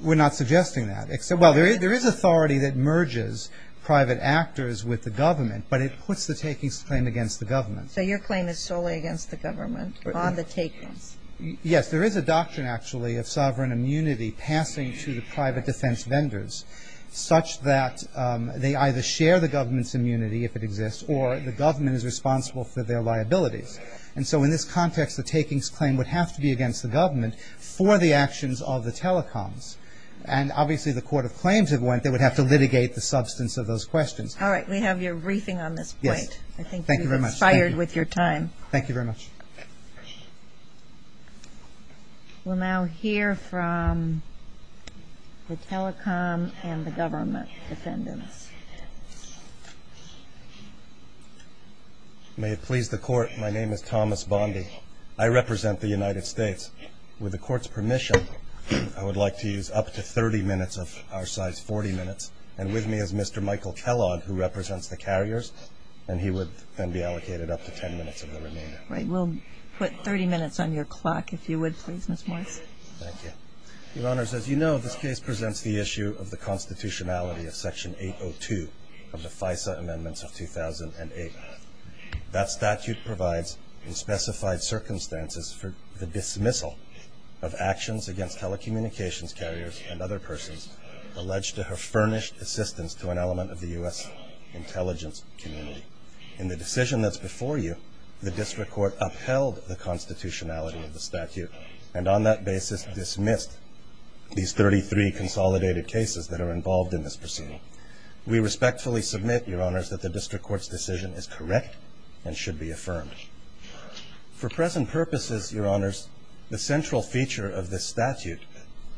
We're not suggesting that. Well, there is authority that merges private actors with the government, but it puts the takings claim against the government. So your claim is solely against the government on the takings? Yes, there is a doctrine, actually, of sovereign immunity passing to the private defense vendors such that they either share the government's immunity if it exists or the government is responsible for their liabilities. And so in this context, the takings claim would have to be against the government for the actions of the telecoms. And obviously the court of claims would have to litigate the substance of those questions. All right, we have your briefing on this point. Thank you very much. I think you've expired with your time. Thank you very much. We'll now hear from the telecom and the government defendants. May it please the court, my name is Thomas Bondy. I represent the United States. With the court's permission, I would like to use up to 30 minutes of our size, 40 minutes, and with me is Mr. Michael Kellogg, who represents the carriers, and he would then be allocated up to 10 minutes of the remainder. All right, we'll put 30 minutes on your clock if you would, Mr. Kellogg. Thank you. Your Honors, as you know, this case presents the issue of the constitutionality of Section 802 of the FISA Amendments of 2008. That statute provides in specified circumstances for the dismissal of actions against telecommunications carriers and other persons alleged to have furnished assistance to an element of the U.S. intelligence community. In the decision that's before you, the district court upheld the constitutionality of the statute and on that basis dismissed these 33 consolidated cases that are involved in this proceeding. We respectfully submit, Your Honors, that the district court's decision is correct and should be affirmed. For present purposes, Your Honors, the central feature of this statute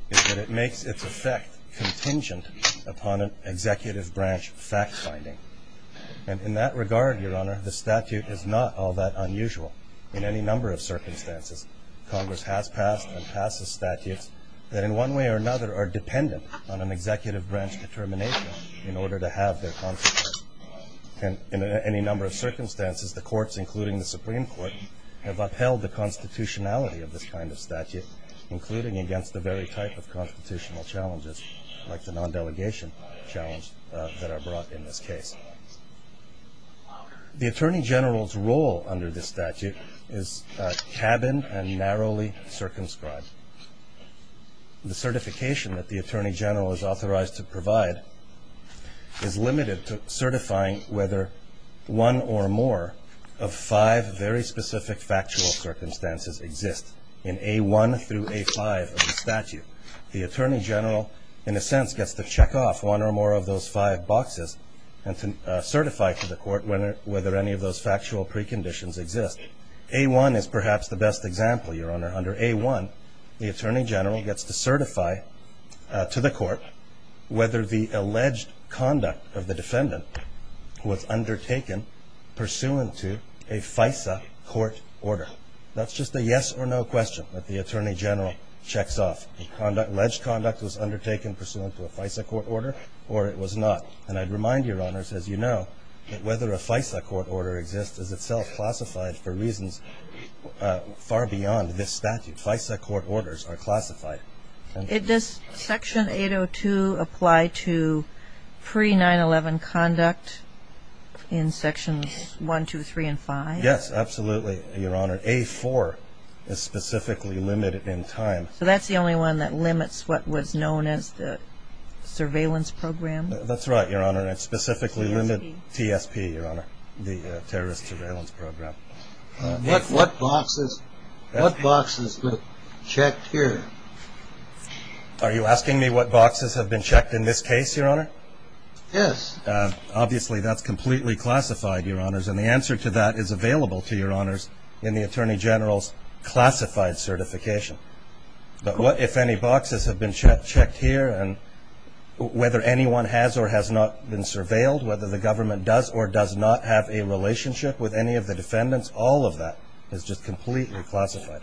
is that it makes its effect contingent upon an executive branch fact-finding. And in that regard, Your Honor, the statute is not all that unusual. In any number of circumstances, Congress has passed and passed a statute that in one way or another are dependent on an executive branch determination in order to have their consequences. In any number of circumstances, the courts, including the Supreme Court, have upheld the constitutionality of this kind of statute, including against the very type of constitutional challenges, like the non-delegation challenges that are brought in this case. The Attorney General's role under this statute is tabined and narrowly circumscribed. The certification that the Attorney General is authorized to provide is limited to certifying whether one or more of five very specific factual circumstances exist The Attorney General, in a sense, gets to check off one or more of those five boxes and to certify to the court whether any of those factual preconditions exist. A-1 is perhaps the best example, Your Honor. Under A-1, the Attorney General gets to certify to the court whether the alleged conduct of the defendant was undertaken pursuant to a FISA court order. That's just a yes or no question that the Attorney General checks off. Alleged conduct was undertaken pursuant to a FISA court order or it was not. And I remind you, Your Honor, as you know, that whether a FISA court order exists is itself classified for reasons far beyond this statute. FISA court orders are classified. Does Section 802 apply to pre-911 conduct in Sections 1, 2, 3, and 5? Yes, absolutely, Your Honor. A-4 is specifically limited in time. So that's the only one that limits what was known as the surveillance program? That's right, Your Honor. It specifically limits PSP, Your Honor, the terrorist surveillance program. Nick, what boxes were checked here? Are you asking me what boxes have been checked in this case, Your Honor? Yes. Obviously, that's completely classified, Your Honors. And the answer to that is available to you, Your Honors, in the Attorney General's classified certification. But if any boxes have been checked here and whether anyone has or has not been surveilled, whether the government does or does not have a relationship with any of the defendants, all of that is just completely classified.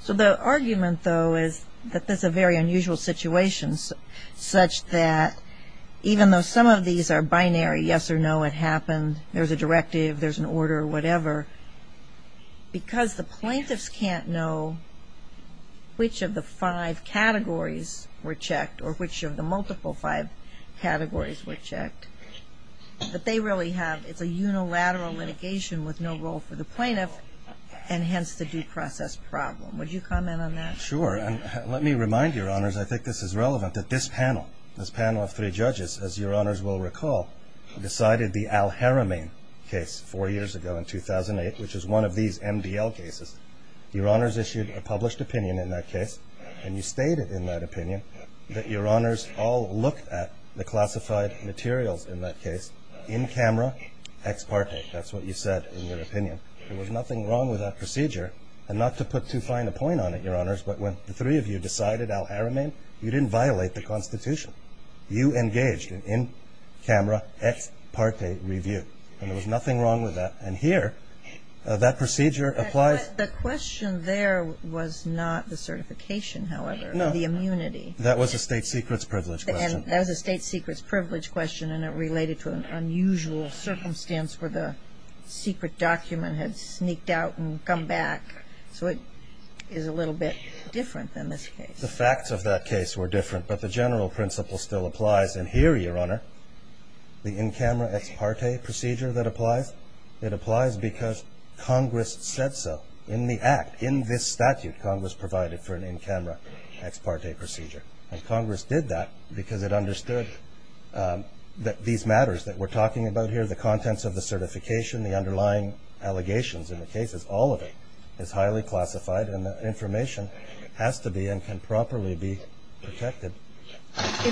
So the argument, though, is that this is a very unusual situation such that even though some of these are binary, yes or no, it happened, there's a directive, there's an order, whatever, because the plaintiffs can't know which of the five categories were checked or which of the multiple five categories were checked, that they really have a unilateral litigation with no role for the plaintiff and hence the due process problem. Would you comment on that? Sure. And let me remind you, Your Honors, I think this is relevant, that this panel, this panel of three judges, as Your Honors will recall, decided the al-Haramain case four years ago in 2008, which is one of these MDL cases. Your Honors issued a published opinion in that case, and you stated in that opinion that Your Honors all looked at the classified materials in that case in camera ex parte. That's what you said in your opinion. There was nothing wrong with that procedure. And not to put too fine a point on it, Your Honors, but when the three of you decided al-Haramain, you didn't violate the Constitution. You engaged in camera ex parte review, and there was nothing wrong with that. And here, that procedure applies. But the question there was not the certification, however. No. The immunity. That was a state secrets privilege question. And that was a state secrets privilege question, and it related to an unusual circumstance where the secret document had sneaked out and come back. So it is a little bit different than this case. The facts of that case were different, but the general principle still applies. And here, Your Honor, the in-camera ex parte procedure that applies, it applies because Congress said so. In the Act, in this statute, Congress provided for an in-camera ex parte procedure. And Congress did that because it understood that these matters that we're talking about here, the contents of the certification, the underlying allegations in the case, all of it is highly classified and the information has to be and can properly be protected.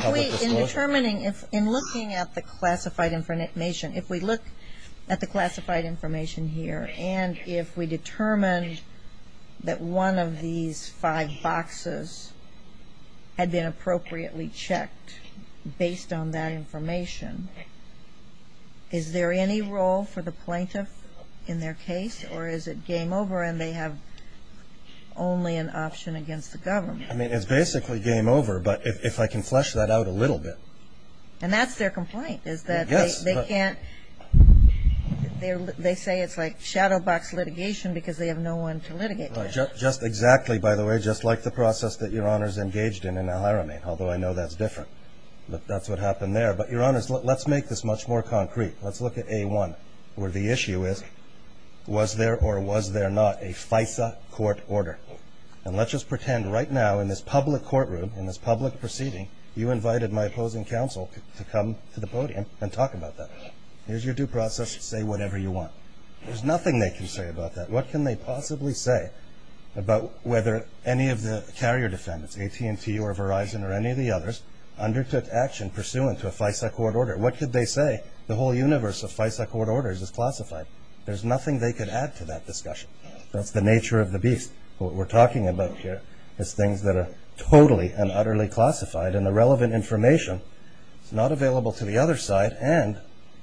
In determining, in looking at the classified information, if we look at the classified information here and if we determine that one of these five boxes had been appropriately checked based on that information, is there any role for the plaintiff in their case? Or is it game over and they have only an option against the government? I mean, it's basically game over, but if I can flesh that out a little bit. And that's their complaint is that they can't. They say it's like shadow box litigation because they have no one to litigate this. Just exactly, by the way, just like the process that Your Honor's engaged in in El Hirame, although I know that's different, but that's what happened there. But Your Honor, let's make this much more concrete. Let's look at A1 where the issue is was there or was there not a FISA court order? And let's just pretend right now in this public courtroom, in this public proceeding, you invited my opposing counsel to come to the podium and talk about that. Here's your due process. Say whatever you want. There's nothing they can say about that. What can they possibly say about whether any of the carrier defendants, AT&T or Verizon or any of the others, undertook action pursuant to a FISA court order? What could they say? The whole universe of FISA court orders is classified. There's nothing they could add to that discussion. That's the nature of the beast. What we're talking about here is things that are totally and utterly classified and irrelevant information not available to the other side. And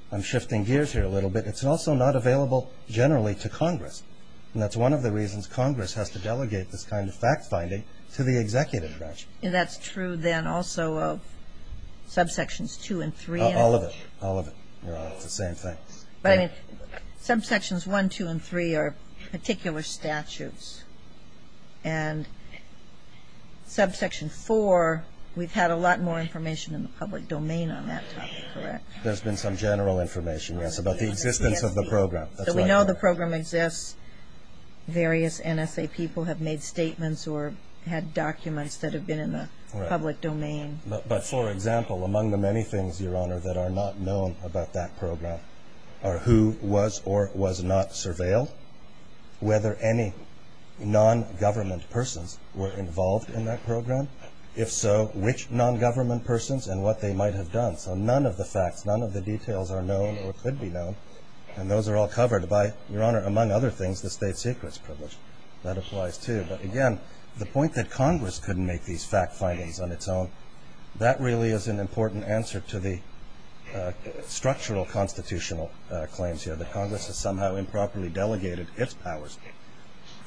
I'm shifting gears here a little bit. It's also not available generally to Congress. And that's one of the reasons Congress has to delegate this kind of fact-finding to the executive branch. That's true then also of subsections two and three. All of it. All of it. It's the same thing. Subsections one, two, and three are particular statutes. And subsection four, we've had a lot more information in the public domain on that subject, correct? There's been some general information, yes, about the existence of the program. So we know the program exists. Various NSA people have made statements or had documents that have been in the public domain. But, for example, among the many things, Your Honor, that are not known about that program are who was or was not surveilled, whether any non-government persons were involved in that program. If so, which non-government persons and what they might have done. So none of the facts, none of the details are known or could be known. And those are all covered by, Your Honor, among other things, the state secrets privilege. That applies too. But, again, the point that Congress couldn't make these fact-findings on its own, that really is an important answer to the structural constitutional claims here, that Congress has somehow improperly delegated its powers.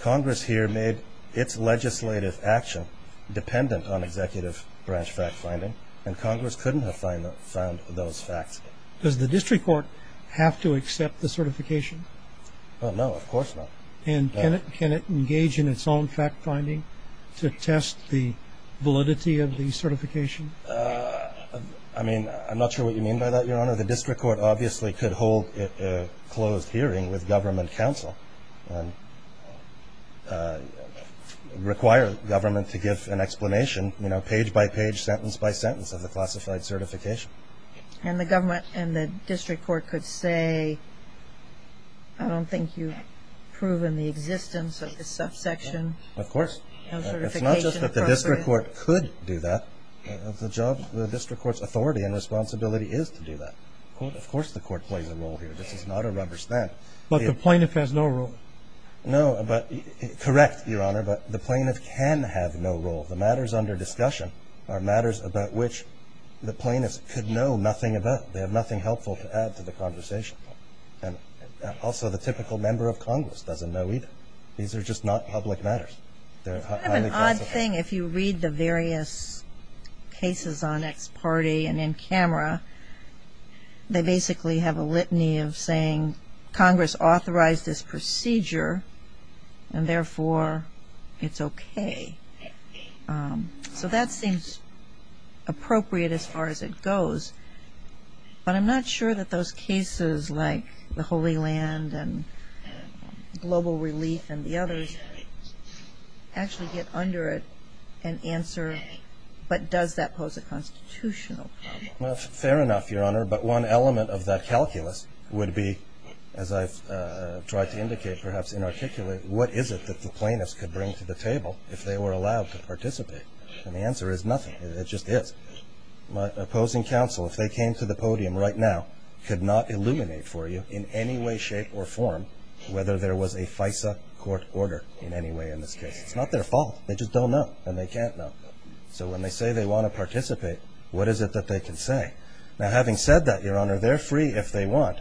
Congress here made its legislative action dependent on executive branch fact-finding, and Congress couldn't have found those facts. Does the district court have to accept the certification? No, of course not. And can it engage in its own fact-finding to test the validity of the certification? I mean, I'm not sure what you mean by that, Your Honor. The district court obviously could hold a closed hearing with government counsel and require government to give an explanation, you know, page by page, sentence by sentence, of the classified certification. And the government and the district court could say, I don't think you've proven the existence of this subsection. Of course. It's not just that the district court could do that. The job of the district court's authority and responsibility is to do that. Of course the court plays a role here. This is not a rubber stamp. But the plaintiff has no role. No, but, correct, Your Honor, but the plaintiff can have no role. The matters under discussion are matters about which the plaintiff could know nothing about. They have nothing helpful to add to the conversation. And also the typical member of Congress doesn't know either. These are just not public matters. I have an odd thing. If you read the various cases on ex parte and in camera, they basically have a litany of saying Congress authorized this procedure and therefore it's okay. So that seems appropriate as far as it goes. But I'm not sure that those cases like the Holy Land and global relief and the others actually get under it But does that pose a constitutional challenge? Fair enough, Your Honor. But one element of that calculus would be, as I tried to indicate, perhaps inarticulate, what is it that the plaintiffs could bring to the table if they were allowed to participate? And the answer is nothing. It just is. My opposing counsel, if they came to the podium right now, could not illuminate for you in any way, shape or form whether there was a FISA court order in any way in this case. It's not their fault. They just don't know. And they can't know. So when they say they want to participate, what is it that they can say? Now having said that, Your Honor, they're free if they want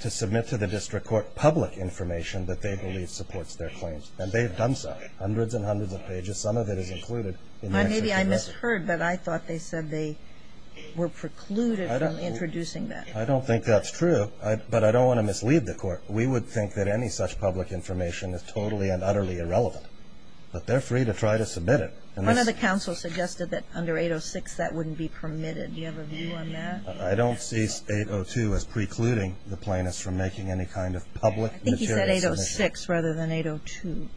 to submit to the district court public information that they believe supports their claims. And they've done so. Hundreds and hundreds of pages. Some of it is included. Maybe I misheard, but I thought they said they were precluded from introducing that. But I don't want to mislead the court. We would think that any such public information is totally and utterly irrelevant. But they're free to try to submit it. One of the counsels suggested that under 806 that wouldn't be permitted. Do you have a view on that? I don't see 802 as precluding the plaintiffs from making any kind of public material submission. I think he said 806 rather than 802.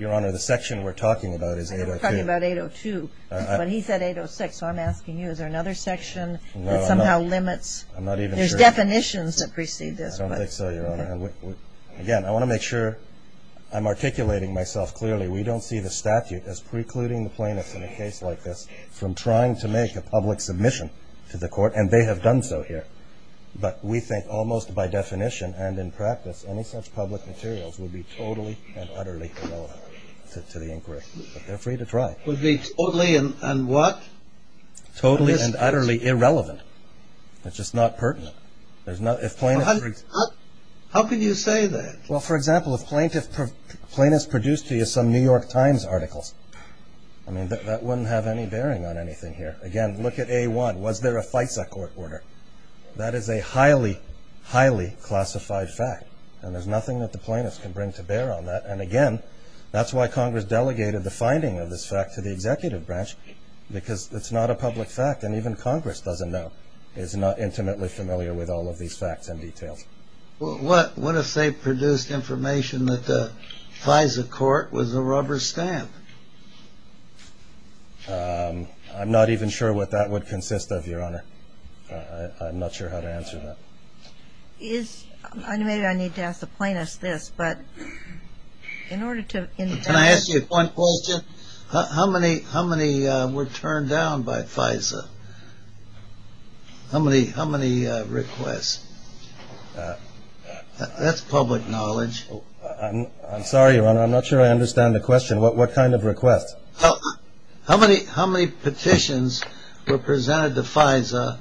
Your Honor, the section we're talking about is 802. We're talking about 802. But he said 806. So I'm asking you, is there another section that somehow limits? There's definitions that precede this. I don't think so, Your Honor. Again, I want to make sure I'm articulating myself clearly. We don't see the statute as precluding the plaintiffs in a case like this from trying to make a public submission to the court. And they have done so here. But we think almost by definition and in practice, any such public materials would be totally and utterly irrelevant to the inquiry. But they're free to try. Would be totally and what? Totally and utterly irrelevant. It's just not pertinent. How could you say that? Well, for example, if plaintiffs produced some New York Times articles, I mean, that wouldn't have any bearing on anything here. Again, look at A1. Was there a fight at court order? That is a highly, highly classified fact. And there's nothing that the plaintiffs can bring to bear on that. And, again, that's why Congress delegated the finding of this fact to the executive branch because it's not a public fact. And even Congress doesn't know. It's not intimately familiar with all of these facts and details. What if they produced information that the FISA court was a rubber stamp? I'm not even sure what that would consist of, Your Honor. I'm not sure how to answer that. Maybe I need to ask the plaintiffs this. Can I ask you one question? How many were turned down by FISA? How many requests? That's public knowledge. I'm sorry, Your Honor. I'm not sure I understand the question. What kind of requests? How many petitions were presented to FISA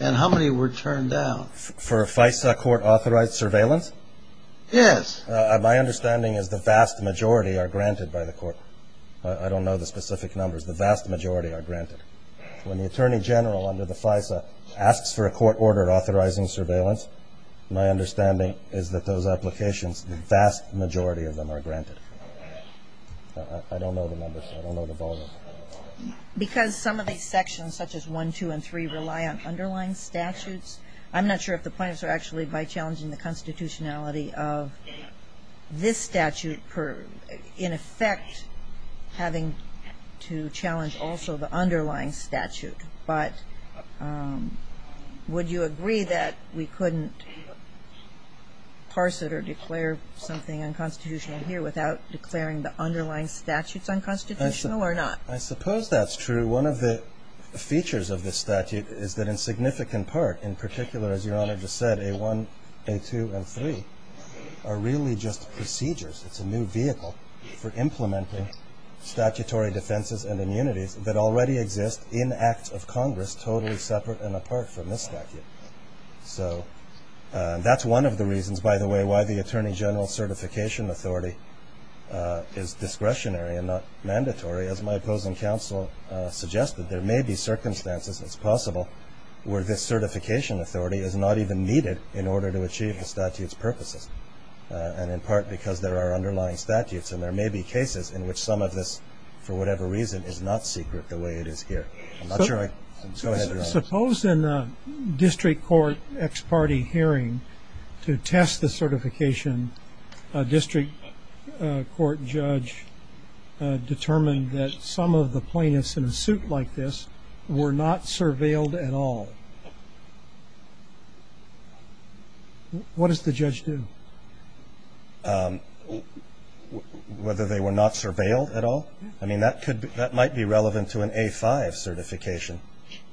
and how many were turned down? For FISA court authorized surveillance? Yes. My understanding is the vast majority are granted by the court. I don't know the specific numbers. The vast majority are granted. When the attorney general under the FISA asks for a court order authorizing surveillance, my understanding is that those applications, the vast majority of them are granted. I don't know the numbers. I don't know the balance. Because some of these sections, such as 1, 2, and 3, rely on underlying statutes. I'm not sure if the plaintiffs are actually by challenging the constitutionality of this statute in effect having to challenge also the underlying statute. But would you agree that we couldn't parse it or declare something unconstitutional here without declaring the underlying statutes unconstitutional or not? I suppose that's true. One of the features of this statute is that in significant part, in particular, as Your Honor just said, A1, A2, and A3 are really just procedures. It's a new vehicle for implementing statutory defenses and immunity that already exist in acts of Congress totally separate and apart from this statute. That's one of the reasons, by the way, why the Attorney General Certification Authority is discretionary and not mandatory, as my opposing counsel suggested. There may be circumstances, it's possible, where this certification authority is not even needed in order to achieve the statute's purposes, and in part because there are underlying statutes, and there may be cases in which some of this, for whatever reason, is not secret the way it is here. I'm not sure I can answer that. Suppose in a district court ex parte hearing to test the certification, a district court judge determined that some of the plaintiffs in a suit like this were not surveilled at all. What does the judge do? Whether they were not surveilled at all? I mean, that might be relevant to an A5 certification.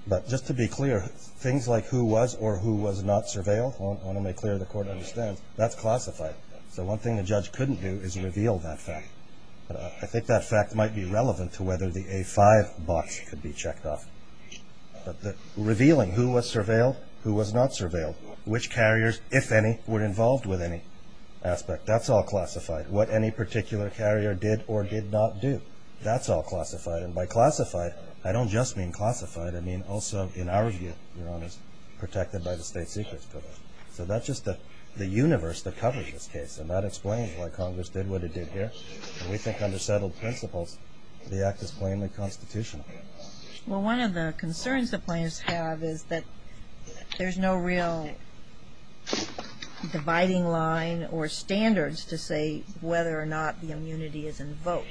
But just to be clear, things like who was or who was not surveilled, I want to make clear the Court understands, that's classified. The one thing the judge couldn't do is reveal that fact. I think that fact might be relevant to whether the A5 box could be checked off. Revealing who was surveilled, who was not surveilled, which carriers, if any, were involved with any aspect, that's all classified. What any particular carrier did or did not do, that's all classified. And by classified, I don't just mean classified. I mean also, in our view, you know, as protected by the state's issues. So that's just the universe that covers this case, and that explains why Congress did what it did here. And we think under settled principles, the act is plainly constitutional. Well, one of the concerns the plaintiffs have is that there's no real dividing line or standards to say whether or not the immunity is invoked.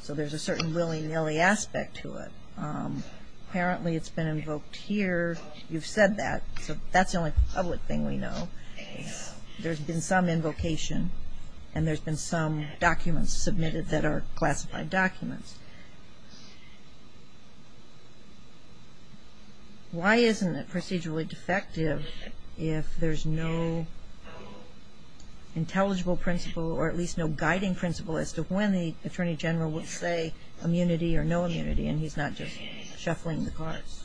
So there's a certain willy-nilly aspect to it. Apparently it's been invoked here. You've said that. That's the only public thing we know. There's been some invocation, and there's been some documents submitted that are classified documents. Why isn't it procedurally defective if there's no intelligible principle or at least no guiding principle as to when the attorney general will say immunity or no immunity, and he's not just shuffling the cards?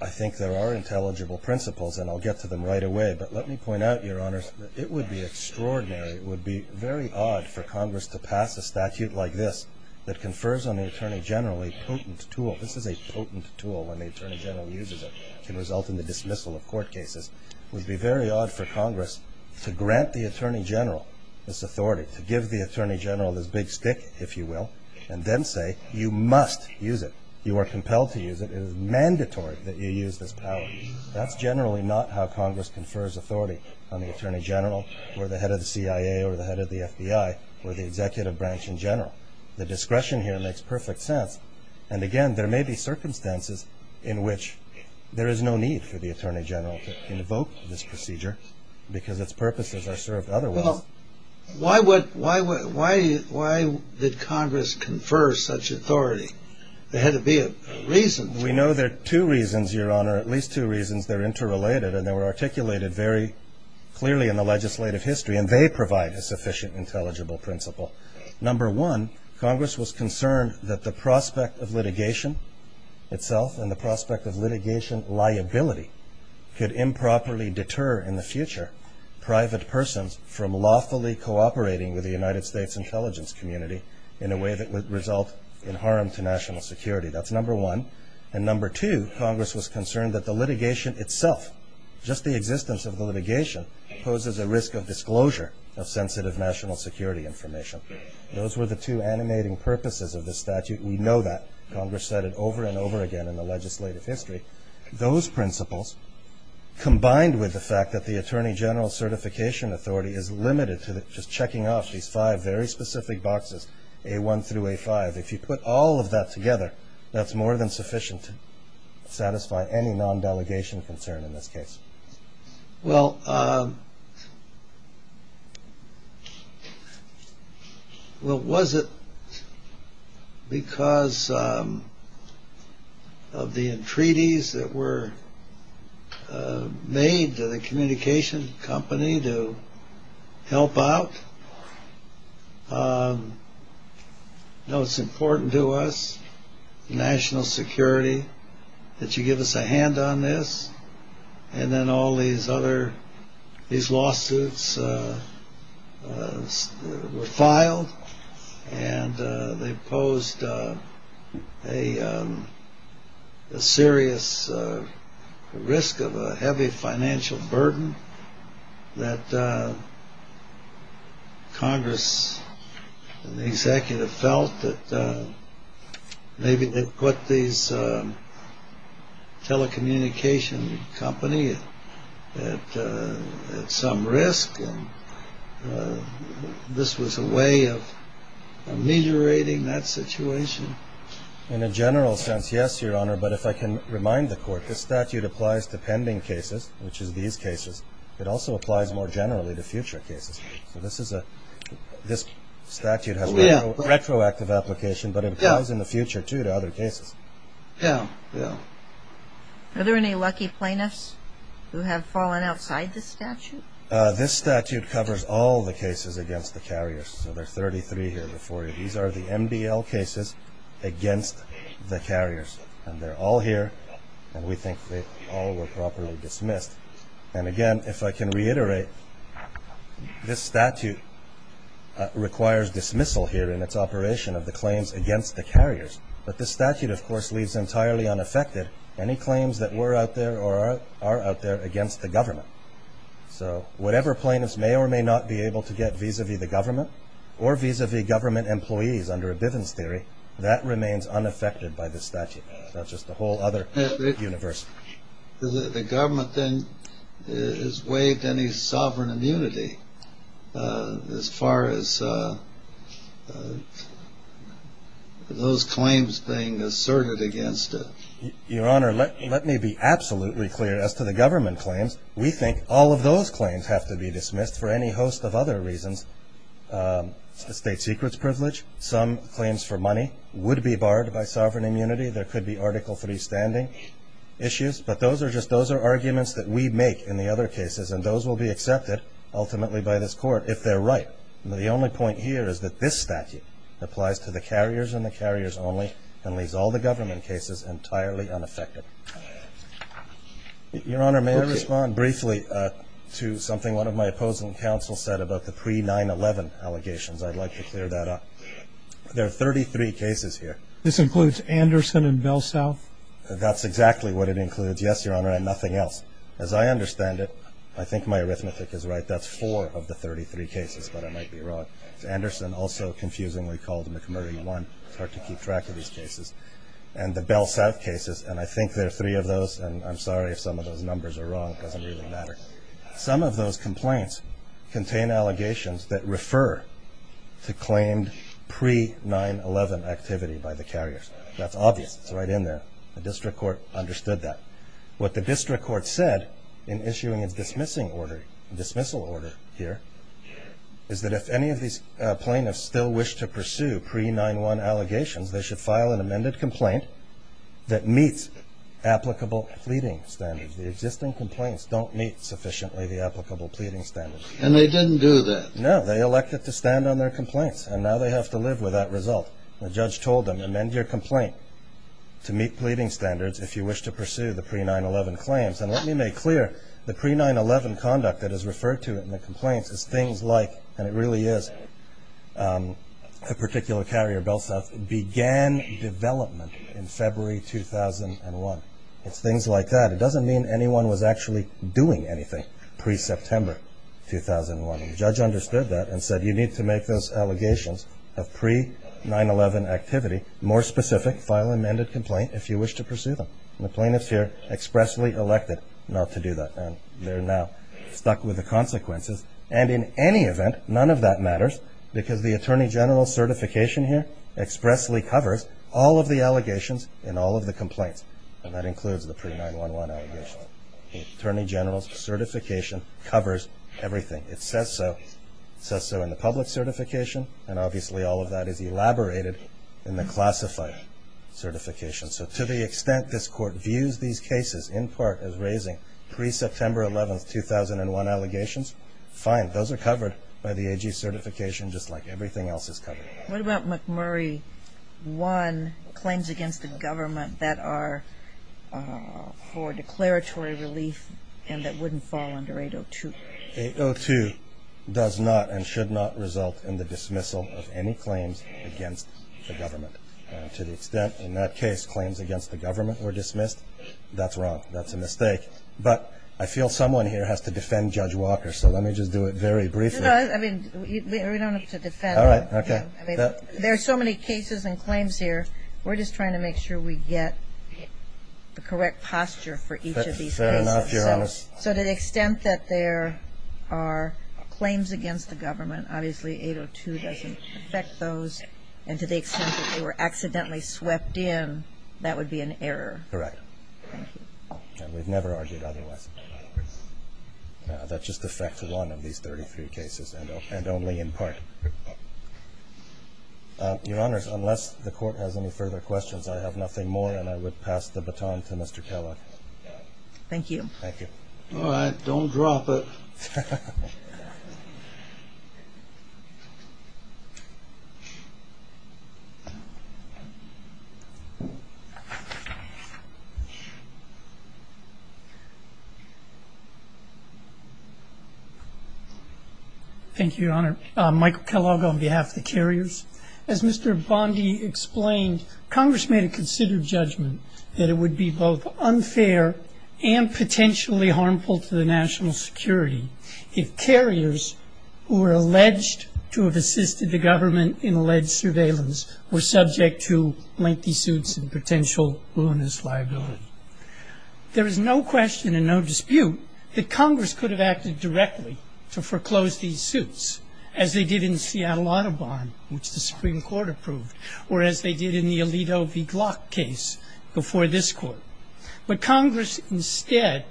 I think there are intelligible principles, and I'll get to them right away. But let me point out, Your Honors, that it would be extraordinary, it would be very odd for Congress to pass a statute like this that confers on the attorney general a potent tool. This is a potent tool when the attorney general uses it. It can result in the dismissal of court cases. It would be very odd for Congress to grant the attorney general this authority, to give the attorney general this big stick, if you will, and then say you must use it, you are compelled to use it, it is mandatory that you use this power. That's generally not how Congress confers authority on the attorney general or the head of the CIA or the head of the FBI or the executive branch in general. The discretion here makes perfect sense. And again, there may be circumstances in which there is no need for the attorney general to invoke this procedure because its purposes are served otherwise. Well, why did Congress confer such authority? There had to be a reason. We know there are two reasons, Your Honor, at least two reasons. They are interrelated and they were articulated very clearly in the legislative history and they provide a sufficient intelligible principle. Number one, Congress was concerned that the prospect of litigation itself and the prospect of litigation liability could improperly deter in the future private persons from lawfully cooperating with the United States intelligence community in a way that would result in harm to national security. That's number one. And number two, Congress was concerned that the litigation itself, just the existence of the litigation, poses a risk of disclosure of sensitive national security information. Those were the two animating purposes of the statute. We know that. Congress said it over and over again in the legislative history. Those principles combined with the fact that the attorney general certification authority is limited to just checking off these five very specific boxes, A1 through A5. If you put all of that together, that's more than sufficient to satisfy any non-delegation concern in this case. Well, was it because of the entreaties that were made to the communications company to help out? It's important to us, national security, that you give us a hand on this and then all these lawsuits were filed and they posed a serious risk of a heavy financial burden that Congress and the executive felt that maybe they put these telecommunications companies at some risk. This was a way of ameliorating that situation. In a general sense, yes, Your Honor. But if I can remind the court, the statute applies to pending cases, which is these cases. It also applies more generally to future cases. This statute has a retroactive application, but it applies in the future, too, to other cases. Are there any lucky plaintiffs who have fallen outside this statute? This statute covers all the cases against the carriers. So there are 33 here before you. These are the MBL cases against the carriers. And they're all here, and we think they all were properly dismissed. And again, if I can reiterate, this statute requires dismissal here in its operation of the claims against the carriers. But this statute, of course, leaves entirely unaffected any claims that were out there or are out there against the government. So whatever plaintiffs may or may not be able to get vis-a-vis the government or vis-a-vis government employees under a business theory, that remains unaffected by this statute. That's just a whole other universe. The government then has waived any sovereign immunity as far as those claims being asserted against it. Your Honor, let me be absolutely clear as to the government claims. We think all of those claims have to be dismissed for any host of other reasons. State secrets privilege, some claims for money would be barred by sovereign immunity. There could be Article III standing issues. But those are arguments that we make in the other cases, and those will be accepted ultimately by this Court if they're right. The only point here is that this statute applies to the carriers and the carriers only and leaves all the government cases entirely unaffected. Your Honor, may I respond briefly to something one of my opposing counsels said about the pre-9-11 allegations? I'd like to clear that up. There are 33 cases here. This includes Anderson and Belsow? That's exactly what it includes, yes, Your Honor, and nothing else. As I understand it, I think my arithmetic is right. That's four of the 33 cases that I might be wrong. Anderson, also confusingly called him the Commodity One. I'll have to keep track of these cases. And the Belsow cases, and I think there are three of those, and I'm sorry if some of those numbers are wrong. It doesn't even matter. Some of those complaints contain allegations that refer to claims pre-9-11 activity by the carriers. That's obvious. It's right in there. The district court understood that. What the district court said in issuing a dismissal order here is that if any of these plaintiffs still wish to pursue pre-9-1 allegations, they should file an amended complaint that meets applicable pleading standards. The existing complaints don't meet sufficiently the applicable pleading standards. And they didn't do that? No. They elected to stand on their complaints, and now they have to live with that result. The judge told them, amend your complaint to meet pleading standards if you wish to pursue the pre-9-11 claims. And let me make clear, the pre-9-11 conduct that is referred to in the complaint is things like, and it really is a particular carrier built up, began development in February 2001. It's things like that. It doesn't mean anyone was actually doing anything pre-September 2001. The judge understood that and said you need to make those allegations of pre-9-11 activity more specific. File an amended complaint if you wish to pursue them. And the plaintiffs here expressly elected not to do that, and they're now stuck with the consequences. And in any event, none of that matters, because the Attorney General's certification here expressly covers all of the allegations in all of the complaints. And that includes the pre-9-11 allegations. The Attorney General's certification covers everything. It says so. It says so in the public certification, and obviously all of that is elaborated in the classified certification. So to the extent this Court views these cases in part as raising pre-September 11, 2001 allegations, fine. Those are covered by the AG certification just like everything else is covered. What about McMurray 1, claims against the government that are for declaratory relief and that wouldn't fall under 802? 802 does not and should not result in the dismissal of any claims against the government. To the extent in that case claims against the government were dismissed, that's wrong. That's a mistake. But I feel someone here has to defend Judge Walker, so let me just do it very briefly. I mean, we don't need to defend him. All right, okay. There are so many cases and claims here. We're just trying to make sure we get the correct posture for each of these cases. Fair enough, Your Honor. So to the extent that there are claims against the government, obviously 802 doesn't affect those, and to the extent that they were accidentally swept in, that would be an error. Correct. Thank you. And we've never argued anyway. That's just the fact of one of these 33 cases and only in part. Your Honor, unless the Court has any further questions, I have nothing more, and I would pass the baton to Mr. Kellogg. Thank you. Thank you. All right, don't drop it. Thank you, Your Honor. Michael Kellogg on behalf of the carriers. As Mr. Bondi explained, Congress may have considered judgment that it would be both unfair and potentially harmful to the national security if carriers who were alleged to have assisted the government in alleged surveillance were subject to lengthy suits and potential ruinous liability. There is no question and no dispute that Congress could have acted directly to foreclose these suits, as they did in Seattle-Audubon, which the Supreme Court approved, or as they did in the Alito v. Block case before this Court. But Congress instead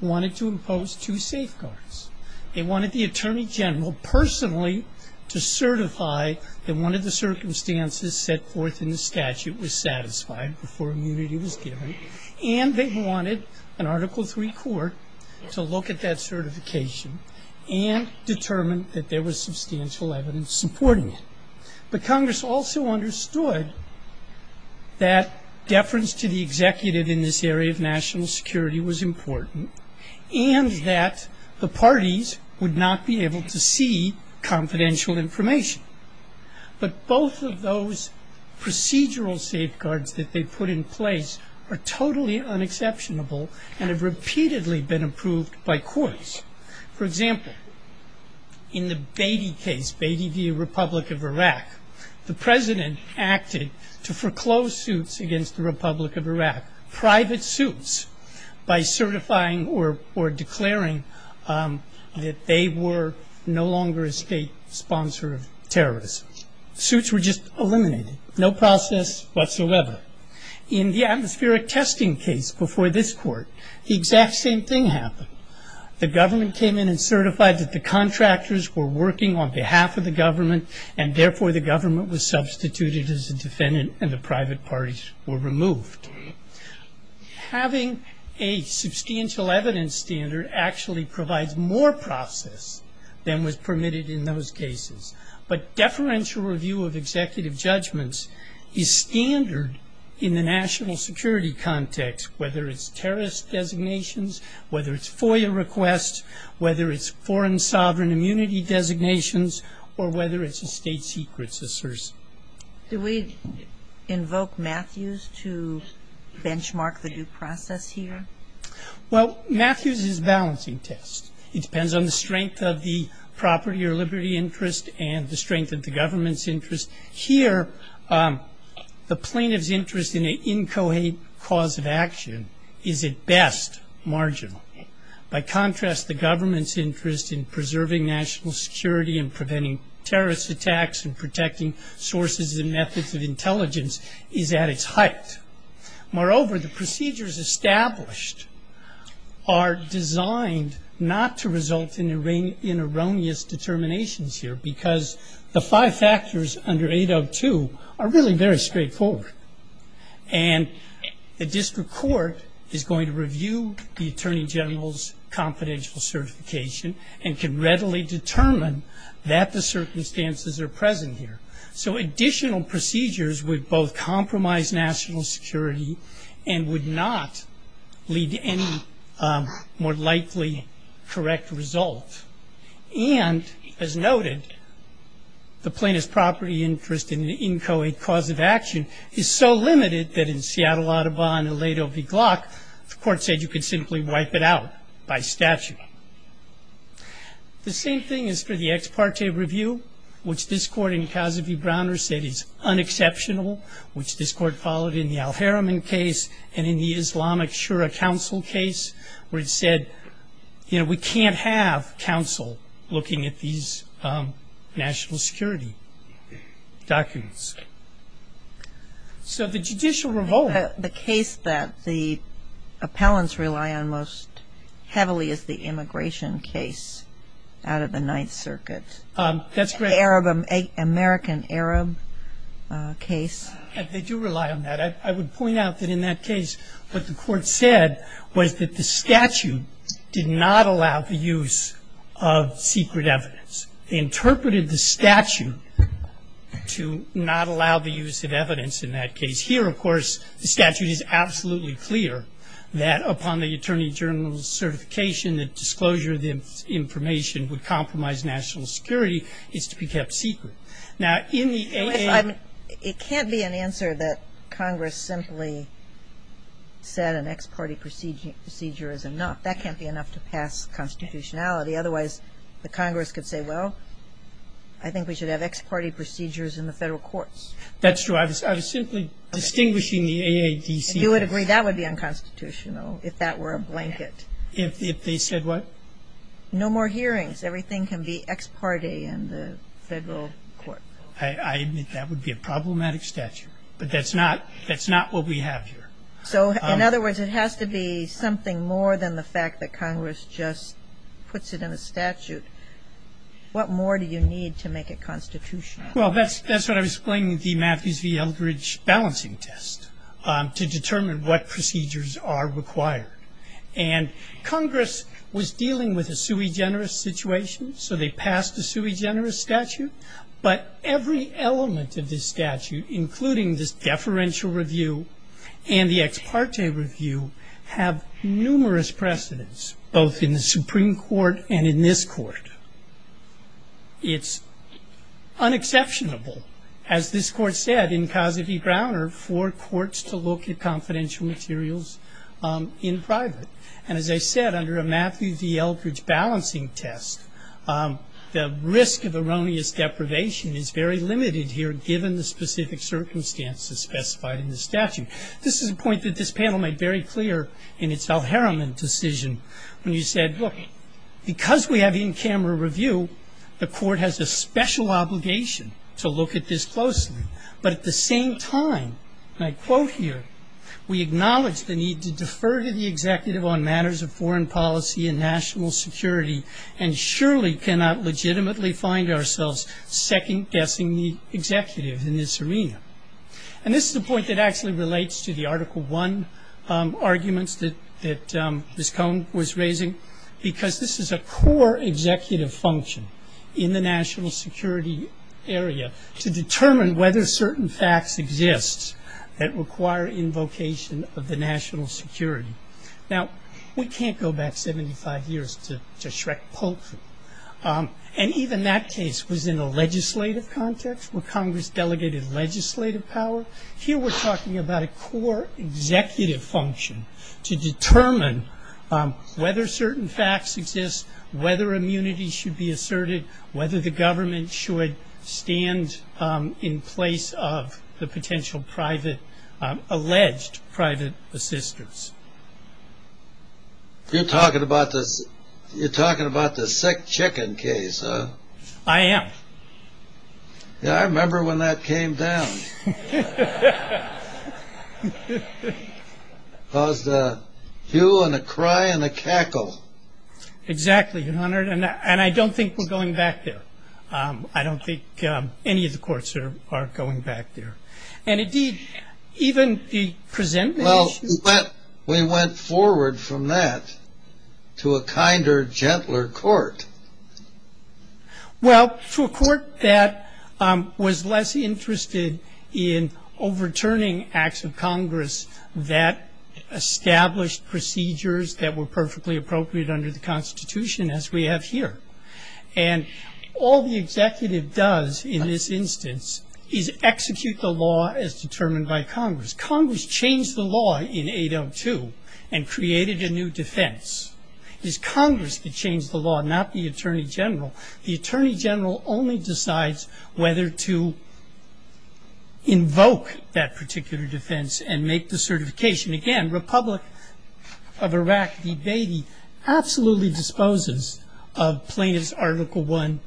wanted to impose two safeguards. They wanted the Attorney General personally to certify that one of the circumstances set forth in the statute was satisfied before immunity was given, and they wanted an Article III court to look at that certification and determine that there was substantial evidence supporting it. But Congress also understood that deference to the executive in this area of national security was important, and that the parties would not be able to see confidential information. But both of those procedural safeguards that they put in place are totally unexceptionable and have repeatedly been approved by courts. For example, in the Beatty case, Beatty v. Republic of Iraq, the President acted to foreclose suits against the Republic of Iraq, private suits, by certifying or declaring that they were no longer a state-sponsored terrorist. Suits were just eliminated. No process whatsoever. In the atmospheric testing case before this Court, the exact same thing happened. The government came in and certified that the contractors were working on behalf of the government, and therefore the government was substituted as a defendant and the private parties were removed. Having a substantial evidence standard actually provides more process than was permitted in those cases. But deferential review of executive judgments is standard in the national security context, whether it's terrorist designations, whether it's FOIA requests, whether it's foreign sovereign immunity designations, or whether it's a state secrets assertion. Do we invoke Matthews to benchmark the due process here? Well, Matthews is a balancing test. It depends on the strength of the property or liberty interest and the strength of the government's interest. Here, the plaintiff's interest in an inchoate cause of action is at best marginal. By contrast, the government's interest in preserving national security and preventing terrorist attacks and protecting sources and methods of intelligence is at its height. Moreover, the procedures established are designed not to result in erroneous determinations here because the five factors under 802 are really very straightforward. And the district court is going to review the attorney general's confidential certification and can readily determine that the circumstances are present here. So additional procedures would both compromise national security and would not lead to any more likely correct result. And as noted, the plaintiff's property interest in the inchoate cause of action is so limited that in Seattle Audubon and Lado v. Glock, the court said you could simply wipe it out by statute. The same thing is for the ex parte review, which this court in Cassidy-Browner said is unexceptional, which this court followed in the Al-Haram case and in the Islamic Shura Council case, where it said, you know, we can't have counsel looking at these national security documents. So the judicial revolt. The case that the appellants rely on most heavily is the immigration case out of the Ninth Circuit. That's right. American Arab case. They do rely on that. I would point out that in that case, what the court said was that the statute did not allow the use of secret evidence. They interpreted the statute to not allow the use of evidence in that case. Here, of course, the statute is absolutely clear that upon the attorney general's certification, the disclosure of the information would compromise national security. It's to be kept secret. It can't be an answer that Congress simply said an ex parte procedure is enough. That can't be enough to pass constitutionality. Otherwise, the Congress could say, well, I think we should have ex parte procedures in the federal courts. That's true. I was simply distinguishing the AATC. If you would agree, that would be unconstitutional if that were a blanket. If they said what? No more hearings. Everything can be ex parte in the federal court. I admit that would be a problematic statute. But that's not what we have here. So, in other words, it has to be something more than the fact that Congress just puts it in a statute. What more do you need to make it constitutional? Well, that's what I was saying with the Matthews v. Eldridge balancing test to determine what procedures are required. And Congress was dealing with a sui generis situation, so they passed a sui generis statute. But every element of this statute, including this deferential review and the ex parte review, have numerous precedents, both in the Supreme Court and in this court. It's unexceptionable. As this court said in Cossidy-Browner, for courts to look at confidential materials in private. And as I said, under a Matthews v. Eldridge balancing test, the risk of erroneous deprivation is very limited here, given the specific circumstances specified in the statute. This is a point that this panel made very clear in its El-Haram decision, when you said, look, because we have in-camera review, the court has a special obligation to look at this closely. But at the same time, and I quote here, we acknowledge the need to defer to the executive on matters of foreign policy and national security, and surely cannot legitimately find ourselves second-guessing the executive in this arena. And this is a point that actually relates to the Article I arguments that Ms. Cohn was raising, because this is a core executive function in the national security area, to determine whether certain facts exist that require invocation of the national security. Now, we can't go back 75 years to Shrek-Poulsen. And even that case was in a legislative context, where Congress delegated legislative power. Here we're talking about a core executive function to determine whether certain facts exist, whether immunity should be asserted, whether the government should stand in place of the potential private, alleged private assistance. You're talking about the sick chicken case, huh? I am. Yeah, I remember when that came down. It was a hue and a cry and a cackle. Exactly, Your Honor. And I don't think we're going back there. I don't think any of the courts are going back there. And, indeed, even the presentation... Well, but we went forward from that to a kinder, gentler court. Well, to a court that was less interested in overturning acts of Congress that established procedures that were perfectly appropriate under the Constitution, as we have here. And all the executive does in this instance is execute the law as determined by Congress. Congress changed the law in 802 and created a new defense. It was Congress that changed the law, not the Attorney General. The Attorney General only decides whether to invoke that particular defense and make the certification. Again, Republic of Iraq v. Dehdy absolutely disposes of Pliny's Article I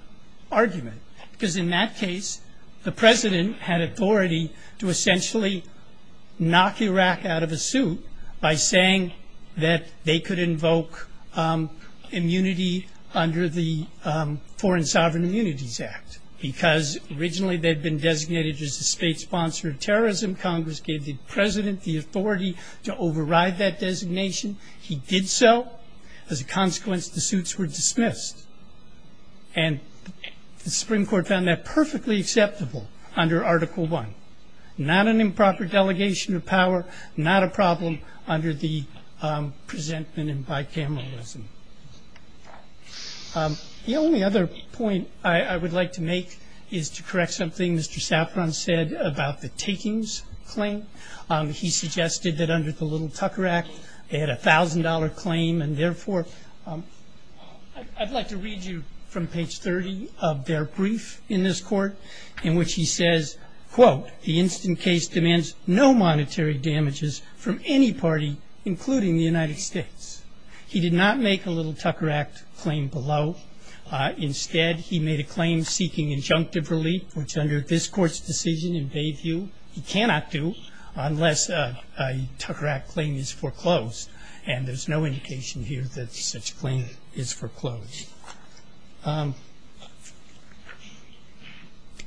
argument. Because in that case, the President had authority to essentially knock Iraq out of the suit by saying that they could invoke immunity under the Foreign Sovereign Immunities Act. Because, originally, they'd been designated as a state sponsor of terrorism. Congress gave the President the authority to override that designation. He did so. As a consequence, the suits were dismissed. And the Supreme Court found that perfectly acceptable under Article I. Not an improper delegation of power. Not a problem under the presentment of bicameralism. The only other point I would like to make is to correct something Mr. Saffron said about the takings claim. He suggested that under the Little Tucker Act, they had a $1,000 claim. And therefore, I'd like to read you from page 30 of their brief in this court, in which he says, quote, the instant case demands no monetary damages from any party, including the United States. He did not make a Little Tucker Act claim below. Instead, he made a claim seeking injunctive relief, which under this court's decision, he cannot do unless a Tucker Act claim is foreclosed. And there's no indication here that such a claim is foreclosed.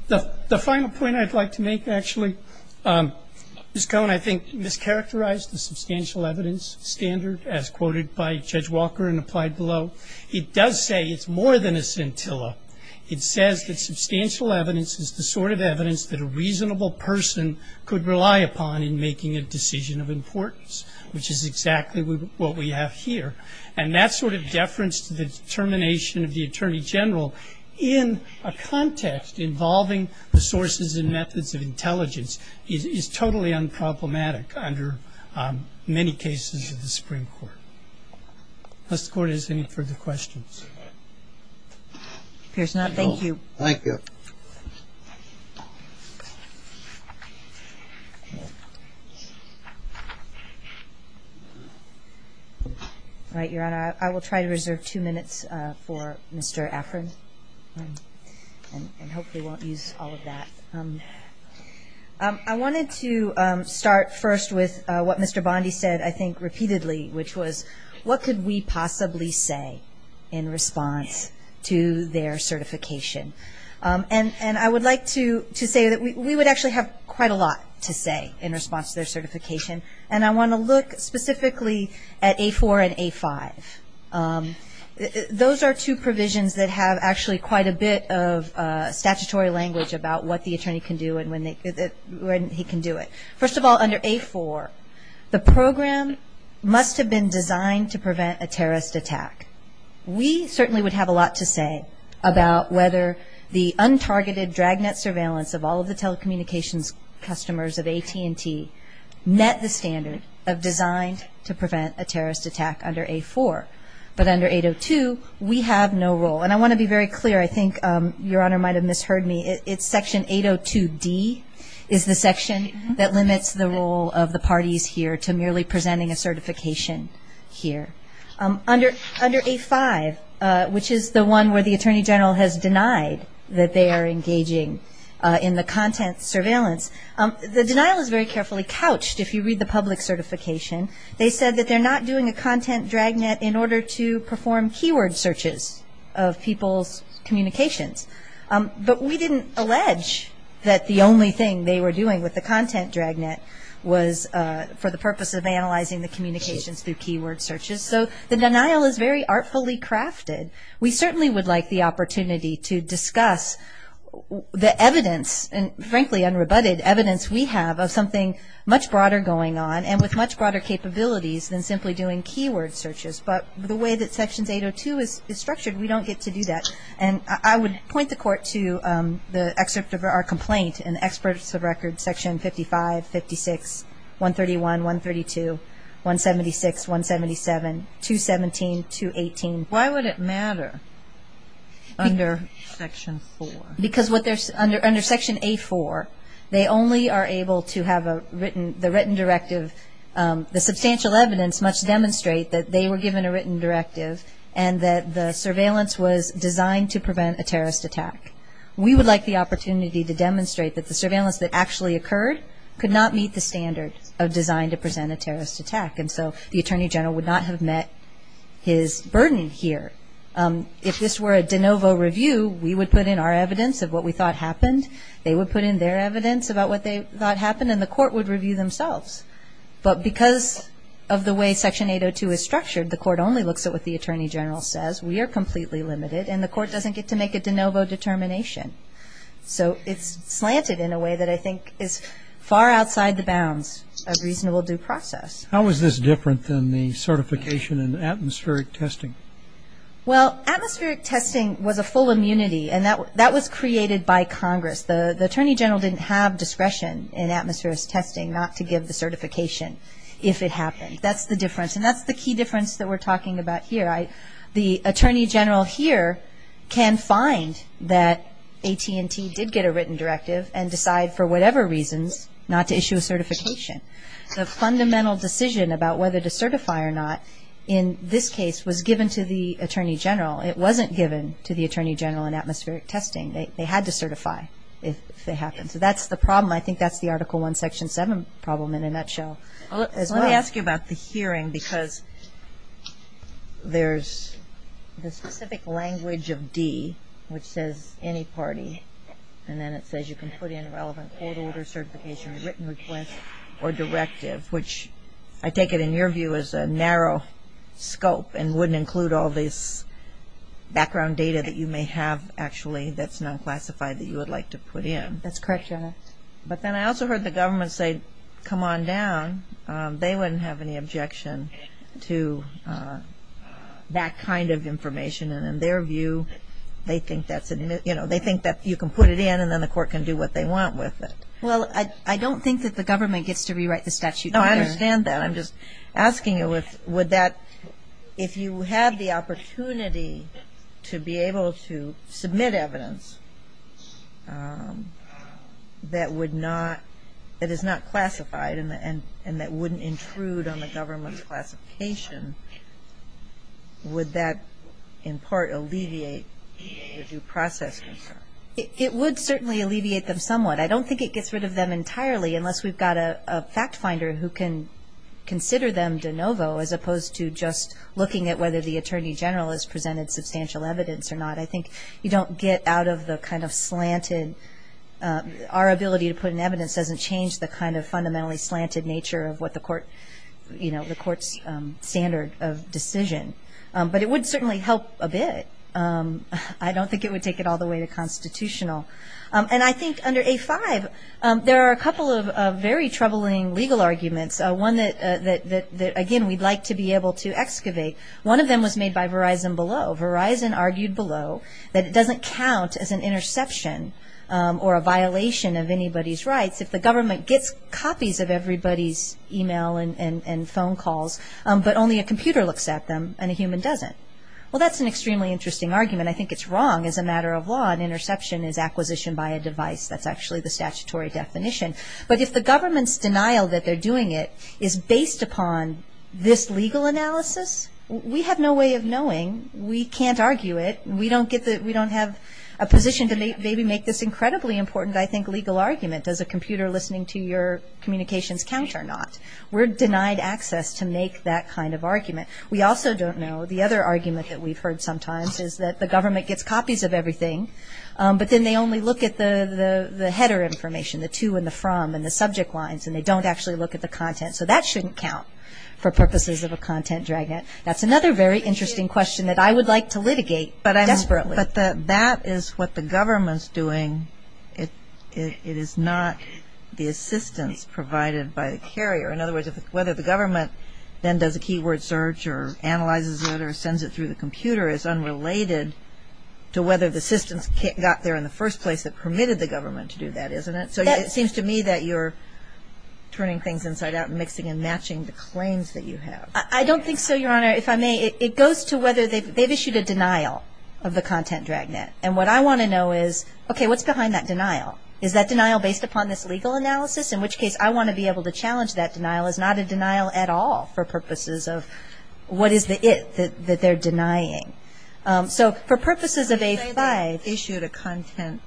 The final point I'd like to make, actually, Ms. Cohen, I think, mischaracterized the substantial evidence standard as quoted by Judge Walker and applied below. It does say it's more than a scintilla. It says that substantial evidence is the sort of evidence that a reasonable person could rely upon in making a decision of importance, which is exactly what we have here. And that sort of deference to the determination of the attorney general in a context involving the sources and methods of intelligence is totally unproblematic under many cases of the Supreme Court. Does the court have any further questions? Here's not. Thank you. Thank you. I will try to reserve two minutes for Mr. Afrin and hopefully won't use all of that. I wanted to start first with what Mr. Bondi said, I think, repeatedly, which was what could we possibly say in response to their certification? And I would like to say that we would actually have quite a lot to say in response to their certification. And I want to look specifically at A4 and A5. Those are two provisions that have actually quite a bit of statutory language about what the attorney can do and when he can do it. First of all, under A4, the program must have been designed to prevent a terrorist attack. We certainly would have a lot to say about whether the untargeted dragnet surveillance of all of the telecommunications customers of AT&T met the standards of design to prevent a terrorist attack under A4. But under 802, we have no role. And I want to be very clear. I think Your Honor might have misheard me. It's Section 802D is the section that limits the role of the parties here to merely presenting a certification here. Under A5, which is the one where the Attorney General has denied that they are engaging in the content surveillance, the denial is very carefully couched if you read the public certification. They said that they're not doing a content dragnet in order to perform keyword searches of people's communications. But we didn't allege that the only thing they were doing with the content dragnet was for the purpose of analyzing the communications through keyword searches. So the denial is very artfully crafted. We certainly would like the opportunity to discuss the evidence, and frankly unrebutted evidence we have, of something much broader going on and with much broader capabilities than simply doing keyword searches. But the way that Section 802 is structured, we don't get to do that. And I would point the Court to the excerpts of our complaint and experts of record, Section 55, 56, 131, 132, 176, 177, 217, 218. Why would it matter under Section 4? Because under Section A4, they only are able to have the written directive. The substantial evidence must demonstrate that they were given a written directive and that the surveillance was designed to prevent a terrorist attack. We would like the opportunity to demonstrate that the surveillance that actually occurred could not meet the standards designed to prevent a terrorist attack. And so the Attorney General would not have met his burden here. If this were a de novo review, we would put in our evidence of what we thought happened. They would put in their evidence about what they thought happened, and the Court would review themselves. But because of the way Section 802 is structured, the Court only looks at what the Attorney General says. We are completely limited, and the Court doesn't get to make a de novo determination. So it's slanted in a way that I think is far outside the bounds of reasonable due process. How is this different than the certification in atmospheric testing? Well, atmospheric testing was a full immunity, and that was created by Congress. The Attorney General didn't have discretion in atmospheric testing not to give the certification if it happened. That's the difference, and that's the key difference that we're talking about here. The Attorney General here can find that AT&T did get a written directive and decide for whatever reason not to issue a certification. The fundamental decision about whether to certify or not in this case was given to the Attorney General. It wasn't given to the Attorney General in atmospheric testing. They had to certify if they happened. So that's the problem. I think that's the Article I, Section 7 problem in a nutshell. Let me ask you about the hearing because there's the specific language of D which says any party, and then it says you can put in relevant old order certification, written request, or directive, which I take it in your view is a narrow scope and wouldn't include all this background data that you may have actually that's not classified that you would like to put in. That's correct, Your Honor. But then I also heard the government say, come on down. They wouldn't have any objection to that kind of information, and in their view they think that you can put it in and then the court can do what they want with it. Well, I don't think that the government gets to rewrite the statute either. No, I understand that. I'm just asking if you have the opportunity to be able to submit evidence that is not classified and that wouldn't intrude on the government's classification, would that in part alleviate the due process? It would certainly alleviate them somewhat. I don't think it gets rid of them entirely unless we've got a fact finder who can consider them de novo as opposed to just looking at whether the Attorney General has presented substantial evidence or not. I think you don't get out of the kind of slanted. Our ability to put in evidence doesn't change the kind of fundamentally slanted nature of what the court's standard of decision. But it would certainly help a bit. I don't think it would take it all the way to constitutional. And I think under A-5 there are a couple of very troubling legal arguments, one that, again, we'd like to be able to excavate. One of them was made by Verizon Below. Verizon argued below that it doesn't count as an interception or a violation of anybody's rights if the government gets copies of everybody's e-mail and phone calls, but only a computer looks at them and a human doesn't. Well, that's an extremely interesting argument. I think it's wrong as a matter of law. An interception is acquisition by a device. That's actually the statutory definition. But if the government's denial that they're doing it is based upon this legal analysis, we have no way of knowing. We can't argue it. We don't have a position to maybe make this incredibly important, I think, legal argument. Does a computer listening to your communications count or not? We're denied access to make that kind of argument. We also don't know. The other argument that we've heard sometimes is that the government gets copies of everything, but then they only look at the header information, the to and the from and the subject lines, and they don't actually look at the content. So that shouldn't count for purposes of a content dragnet. That's another very interesting question that I would like to litigate desperately. But that is what the government's doing. It is not the assistance provided by the carrier. In other words, whether the government then does a keyword search or analyzes it or sends it through the computer is unrelated to whether the assistance got there in the first place that permitted the government to do that, isn't it? So it seems to me that you're turning things inside out and mixing and matching the claims that you have. I don't think so, Your Honor. If I may, it goes to whether they've issued a denial of the content dragnet. And what I want to know is, okay, what's behind that denial? Is that denial based upon this legal analysis? In which case, I want to be able to challenge that denial. It's not a denial at all for purposes of what is it that they're denying. So for purposes of A5, issue of the content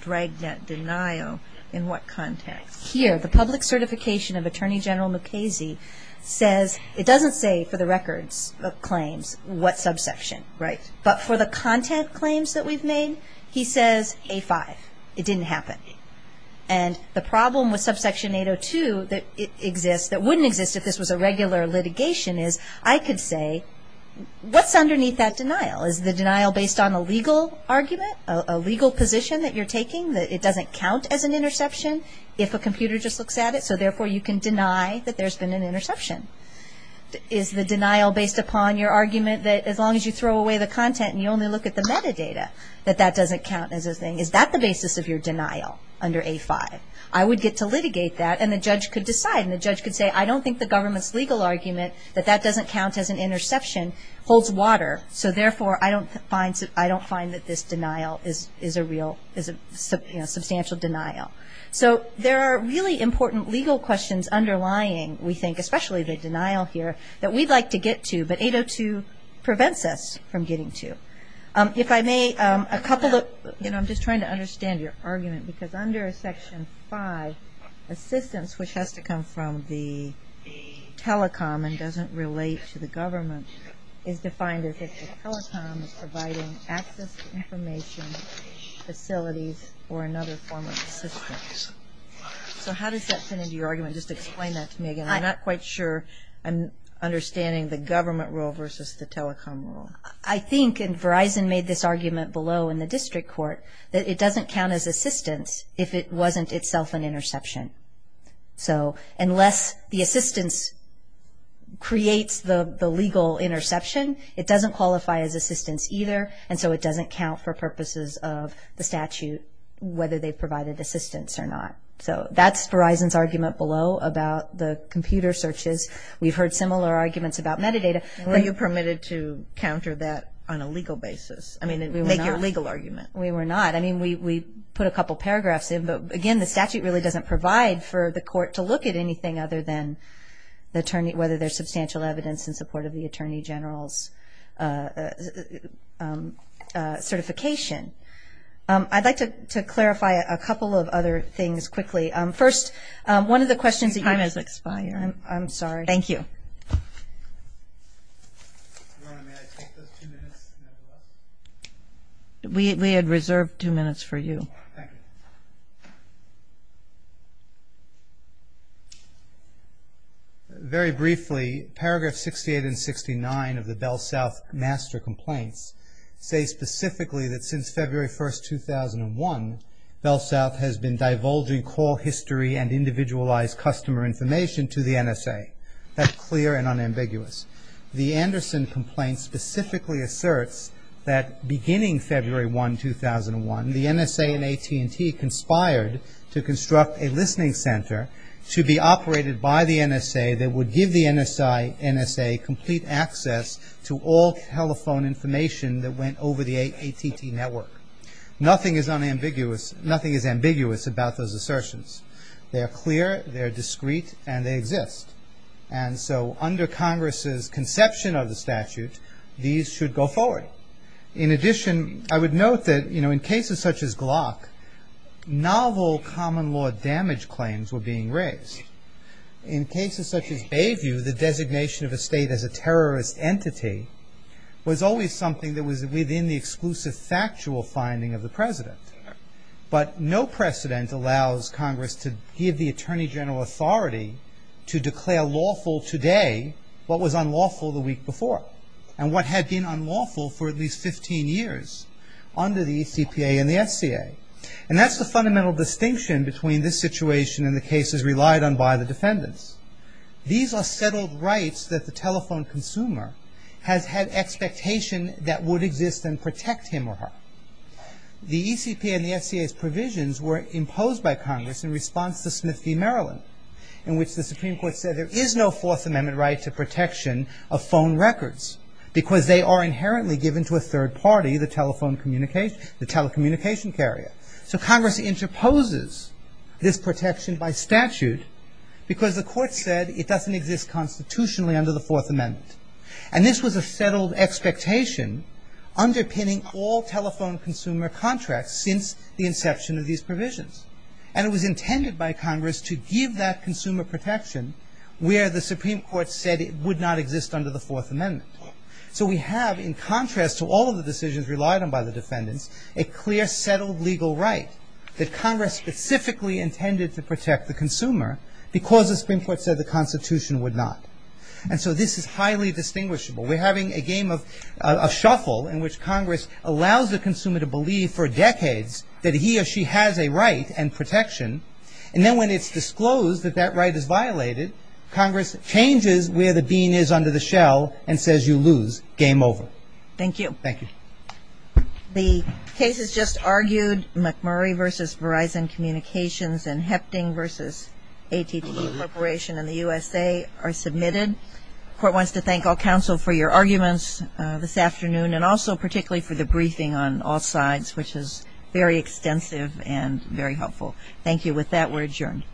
dragnet denial, in what context? Here, the public certification of Attorney General Mukasey says, it doesn't say for the records of claims what subsection, right? But for the content claims that we've made, he says A5. It didn't happen. And the problem with subsection 802 that exists, that wouldn't exist if this was a regular litigation is, I could say, what's underneath that denial? Is the denial based on a legal argument, a legal position that you're taking, that it doesn't count as an interception if a computer just looks at it? So therefore, you can deny that there's been an interception. Is the denial based upon your argument that as long as you throw away the content and you only look at the metadata, that that doesn't count as a thing? Is that the basis of your denial under A5? I would get to litigate that, and the judge could decide. And the judge could say, I don't think the government's legal argument, that that doesn't count as an interception, holds water. So therefore, I don't find that this denial is a real, is a substantial denial. So there are really important legal questions underlying, we think, especially the denial here, that we'd like to get to, but 802 prevents us from getting to. If I may, a couple of, you know, I'm just trying to understand your argument, because under Section 5, assistance, which has to come from the telecom and doesn't relate to the government, is defined as if the telecom is providing access information, facilities, or another form of assistance. So how does that fit into your argument? Just explain that to me again. I'm not quite sure I'm understanding the government rule versus the telecom rule. I think, and Verizon made this argument below in the district court, that it doesn't count as assistance if it wasn't itself an interception. So unless the assistance creates the legal interception, it doesn't qualify as assistance either, and so it doesn't count for purposes of the statute, whether they provided assistance or not. So that's Verizon's argument below about the computer searches. We've heard similar arguments about metadata. Were you permitted to counter that on a legal basis? I mean, make your legal argument. We were not. I mean, we put a couple paragraphs in, but, again, the statute really doesn't provide for the court to look at anything other than whether there's substantial evidence in support of the attorney general's certification. I'd like to clarify a couple of other things quickly. First, one of the questions that you have is the time has expired. I'm sorry. Thank you. We had reserved two minutes for you. Thank you. Very briefly, paragraphs 68 and 69 of the BellSouth master complaints say specifically that since February 1, 2001, BellSouth has been divulging call history and individualized customer information to the NSA. That's clear and unambiguous. The Anderson complaint specifically asserts that beginning February 1, 2001, the NSA and AT&T conspired to construct a listening center to be operated by the NSA that would give the NSA complete access to all telephone information that went over the AT&T network. Nothing is ambiguous about those assertions. They're clear, they're discreet, and they exist. And so under Congress's conception of the statute, these should go forward. In addition, I would note that in cases such as Glock, novel common law damage claims were being raised. In cases such as Bayview, the designation of a state as a terrorist entity was always something that was within the exclusive factual finding of the president. But no precedent allows Congress to give the Attorney General authority to declare lawful today what was unlawful the week before and what had been unlawful for at least 15 years under the ECPA and the SCA. And that's the fundamental distinction between this situation and the cases relied on by the defendants. These are settled rights that the telephone consumer has had expectation that would exist and protect him or her. The ECPA and the SCA's provisions were imposed by Congress in response to Smith v. Maryland, in which the Supreme Court said there is no Fourth Amendment right to protection of phone records because they are inherently given to a third party, the telephone communicator, the telecommunication carrier. So Congress interposes this protection by statute because the court said it doesn't exist constitutionally under the Fourth Amendment. And this was a settled expectation underpinning all telephone consumer contracts since the inception of these provisions. And it was intended by Congress to give that consumer protection where the Supreme Court said it would not exist under the Fourth Amendment. So we have, in contrast to all of the decisions relied on by the defendants, a clear settled legal right that Congress specifically intended to protect the consumer because the Supreme Court said the Constitution would not. And so this is highly distinguishable. We're having a game of shuffle in which Congress allows the consumer to believe for decades that he or she has a right and protection. And then when it's disclosed that that right is violated, Congress changes where the bean is under the shell and says you lose. Game over. Thank you. Thank you. The cases just argued, McMurray v. Verizon Communications and Hefting v. AT&T Corporation and the USA, are submitted. The Court wants to thank all counsel for your arguments this afternoon and also particularly for the briefing on all sides which is very extensive and very helpful. Thank you. With that, we're adjourned.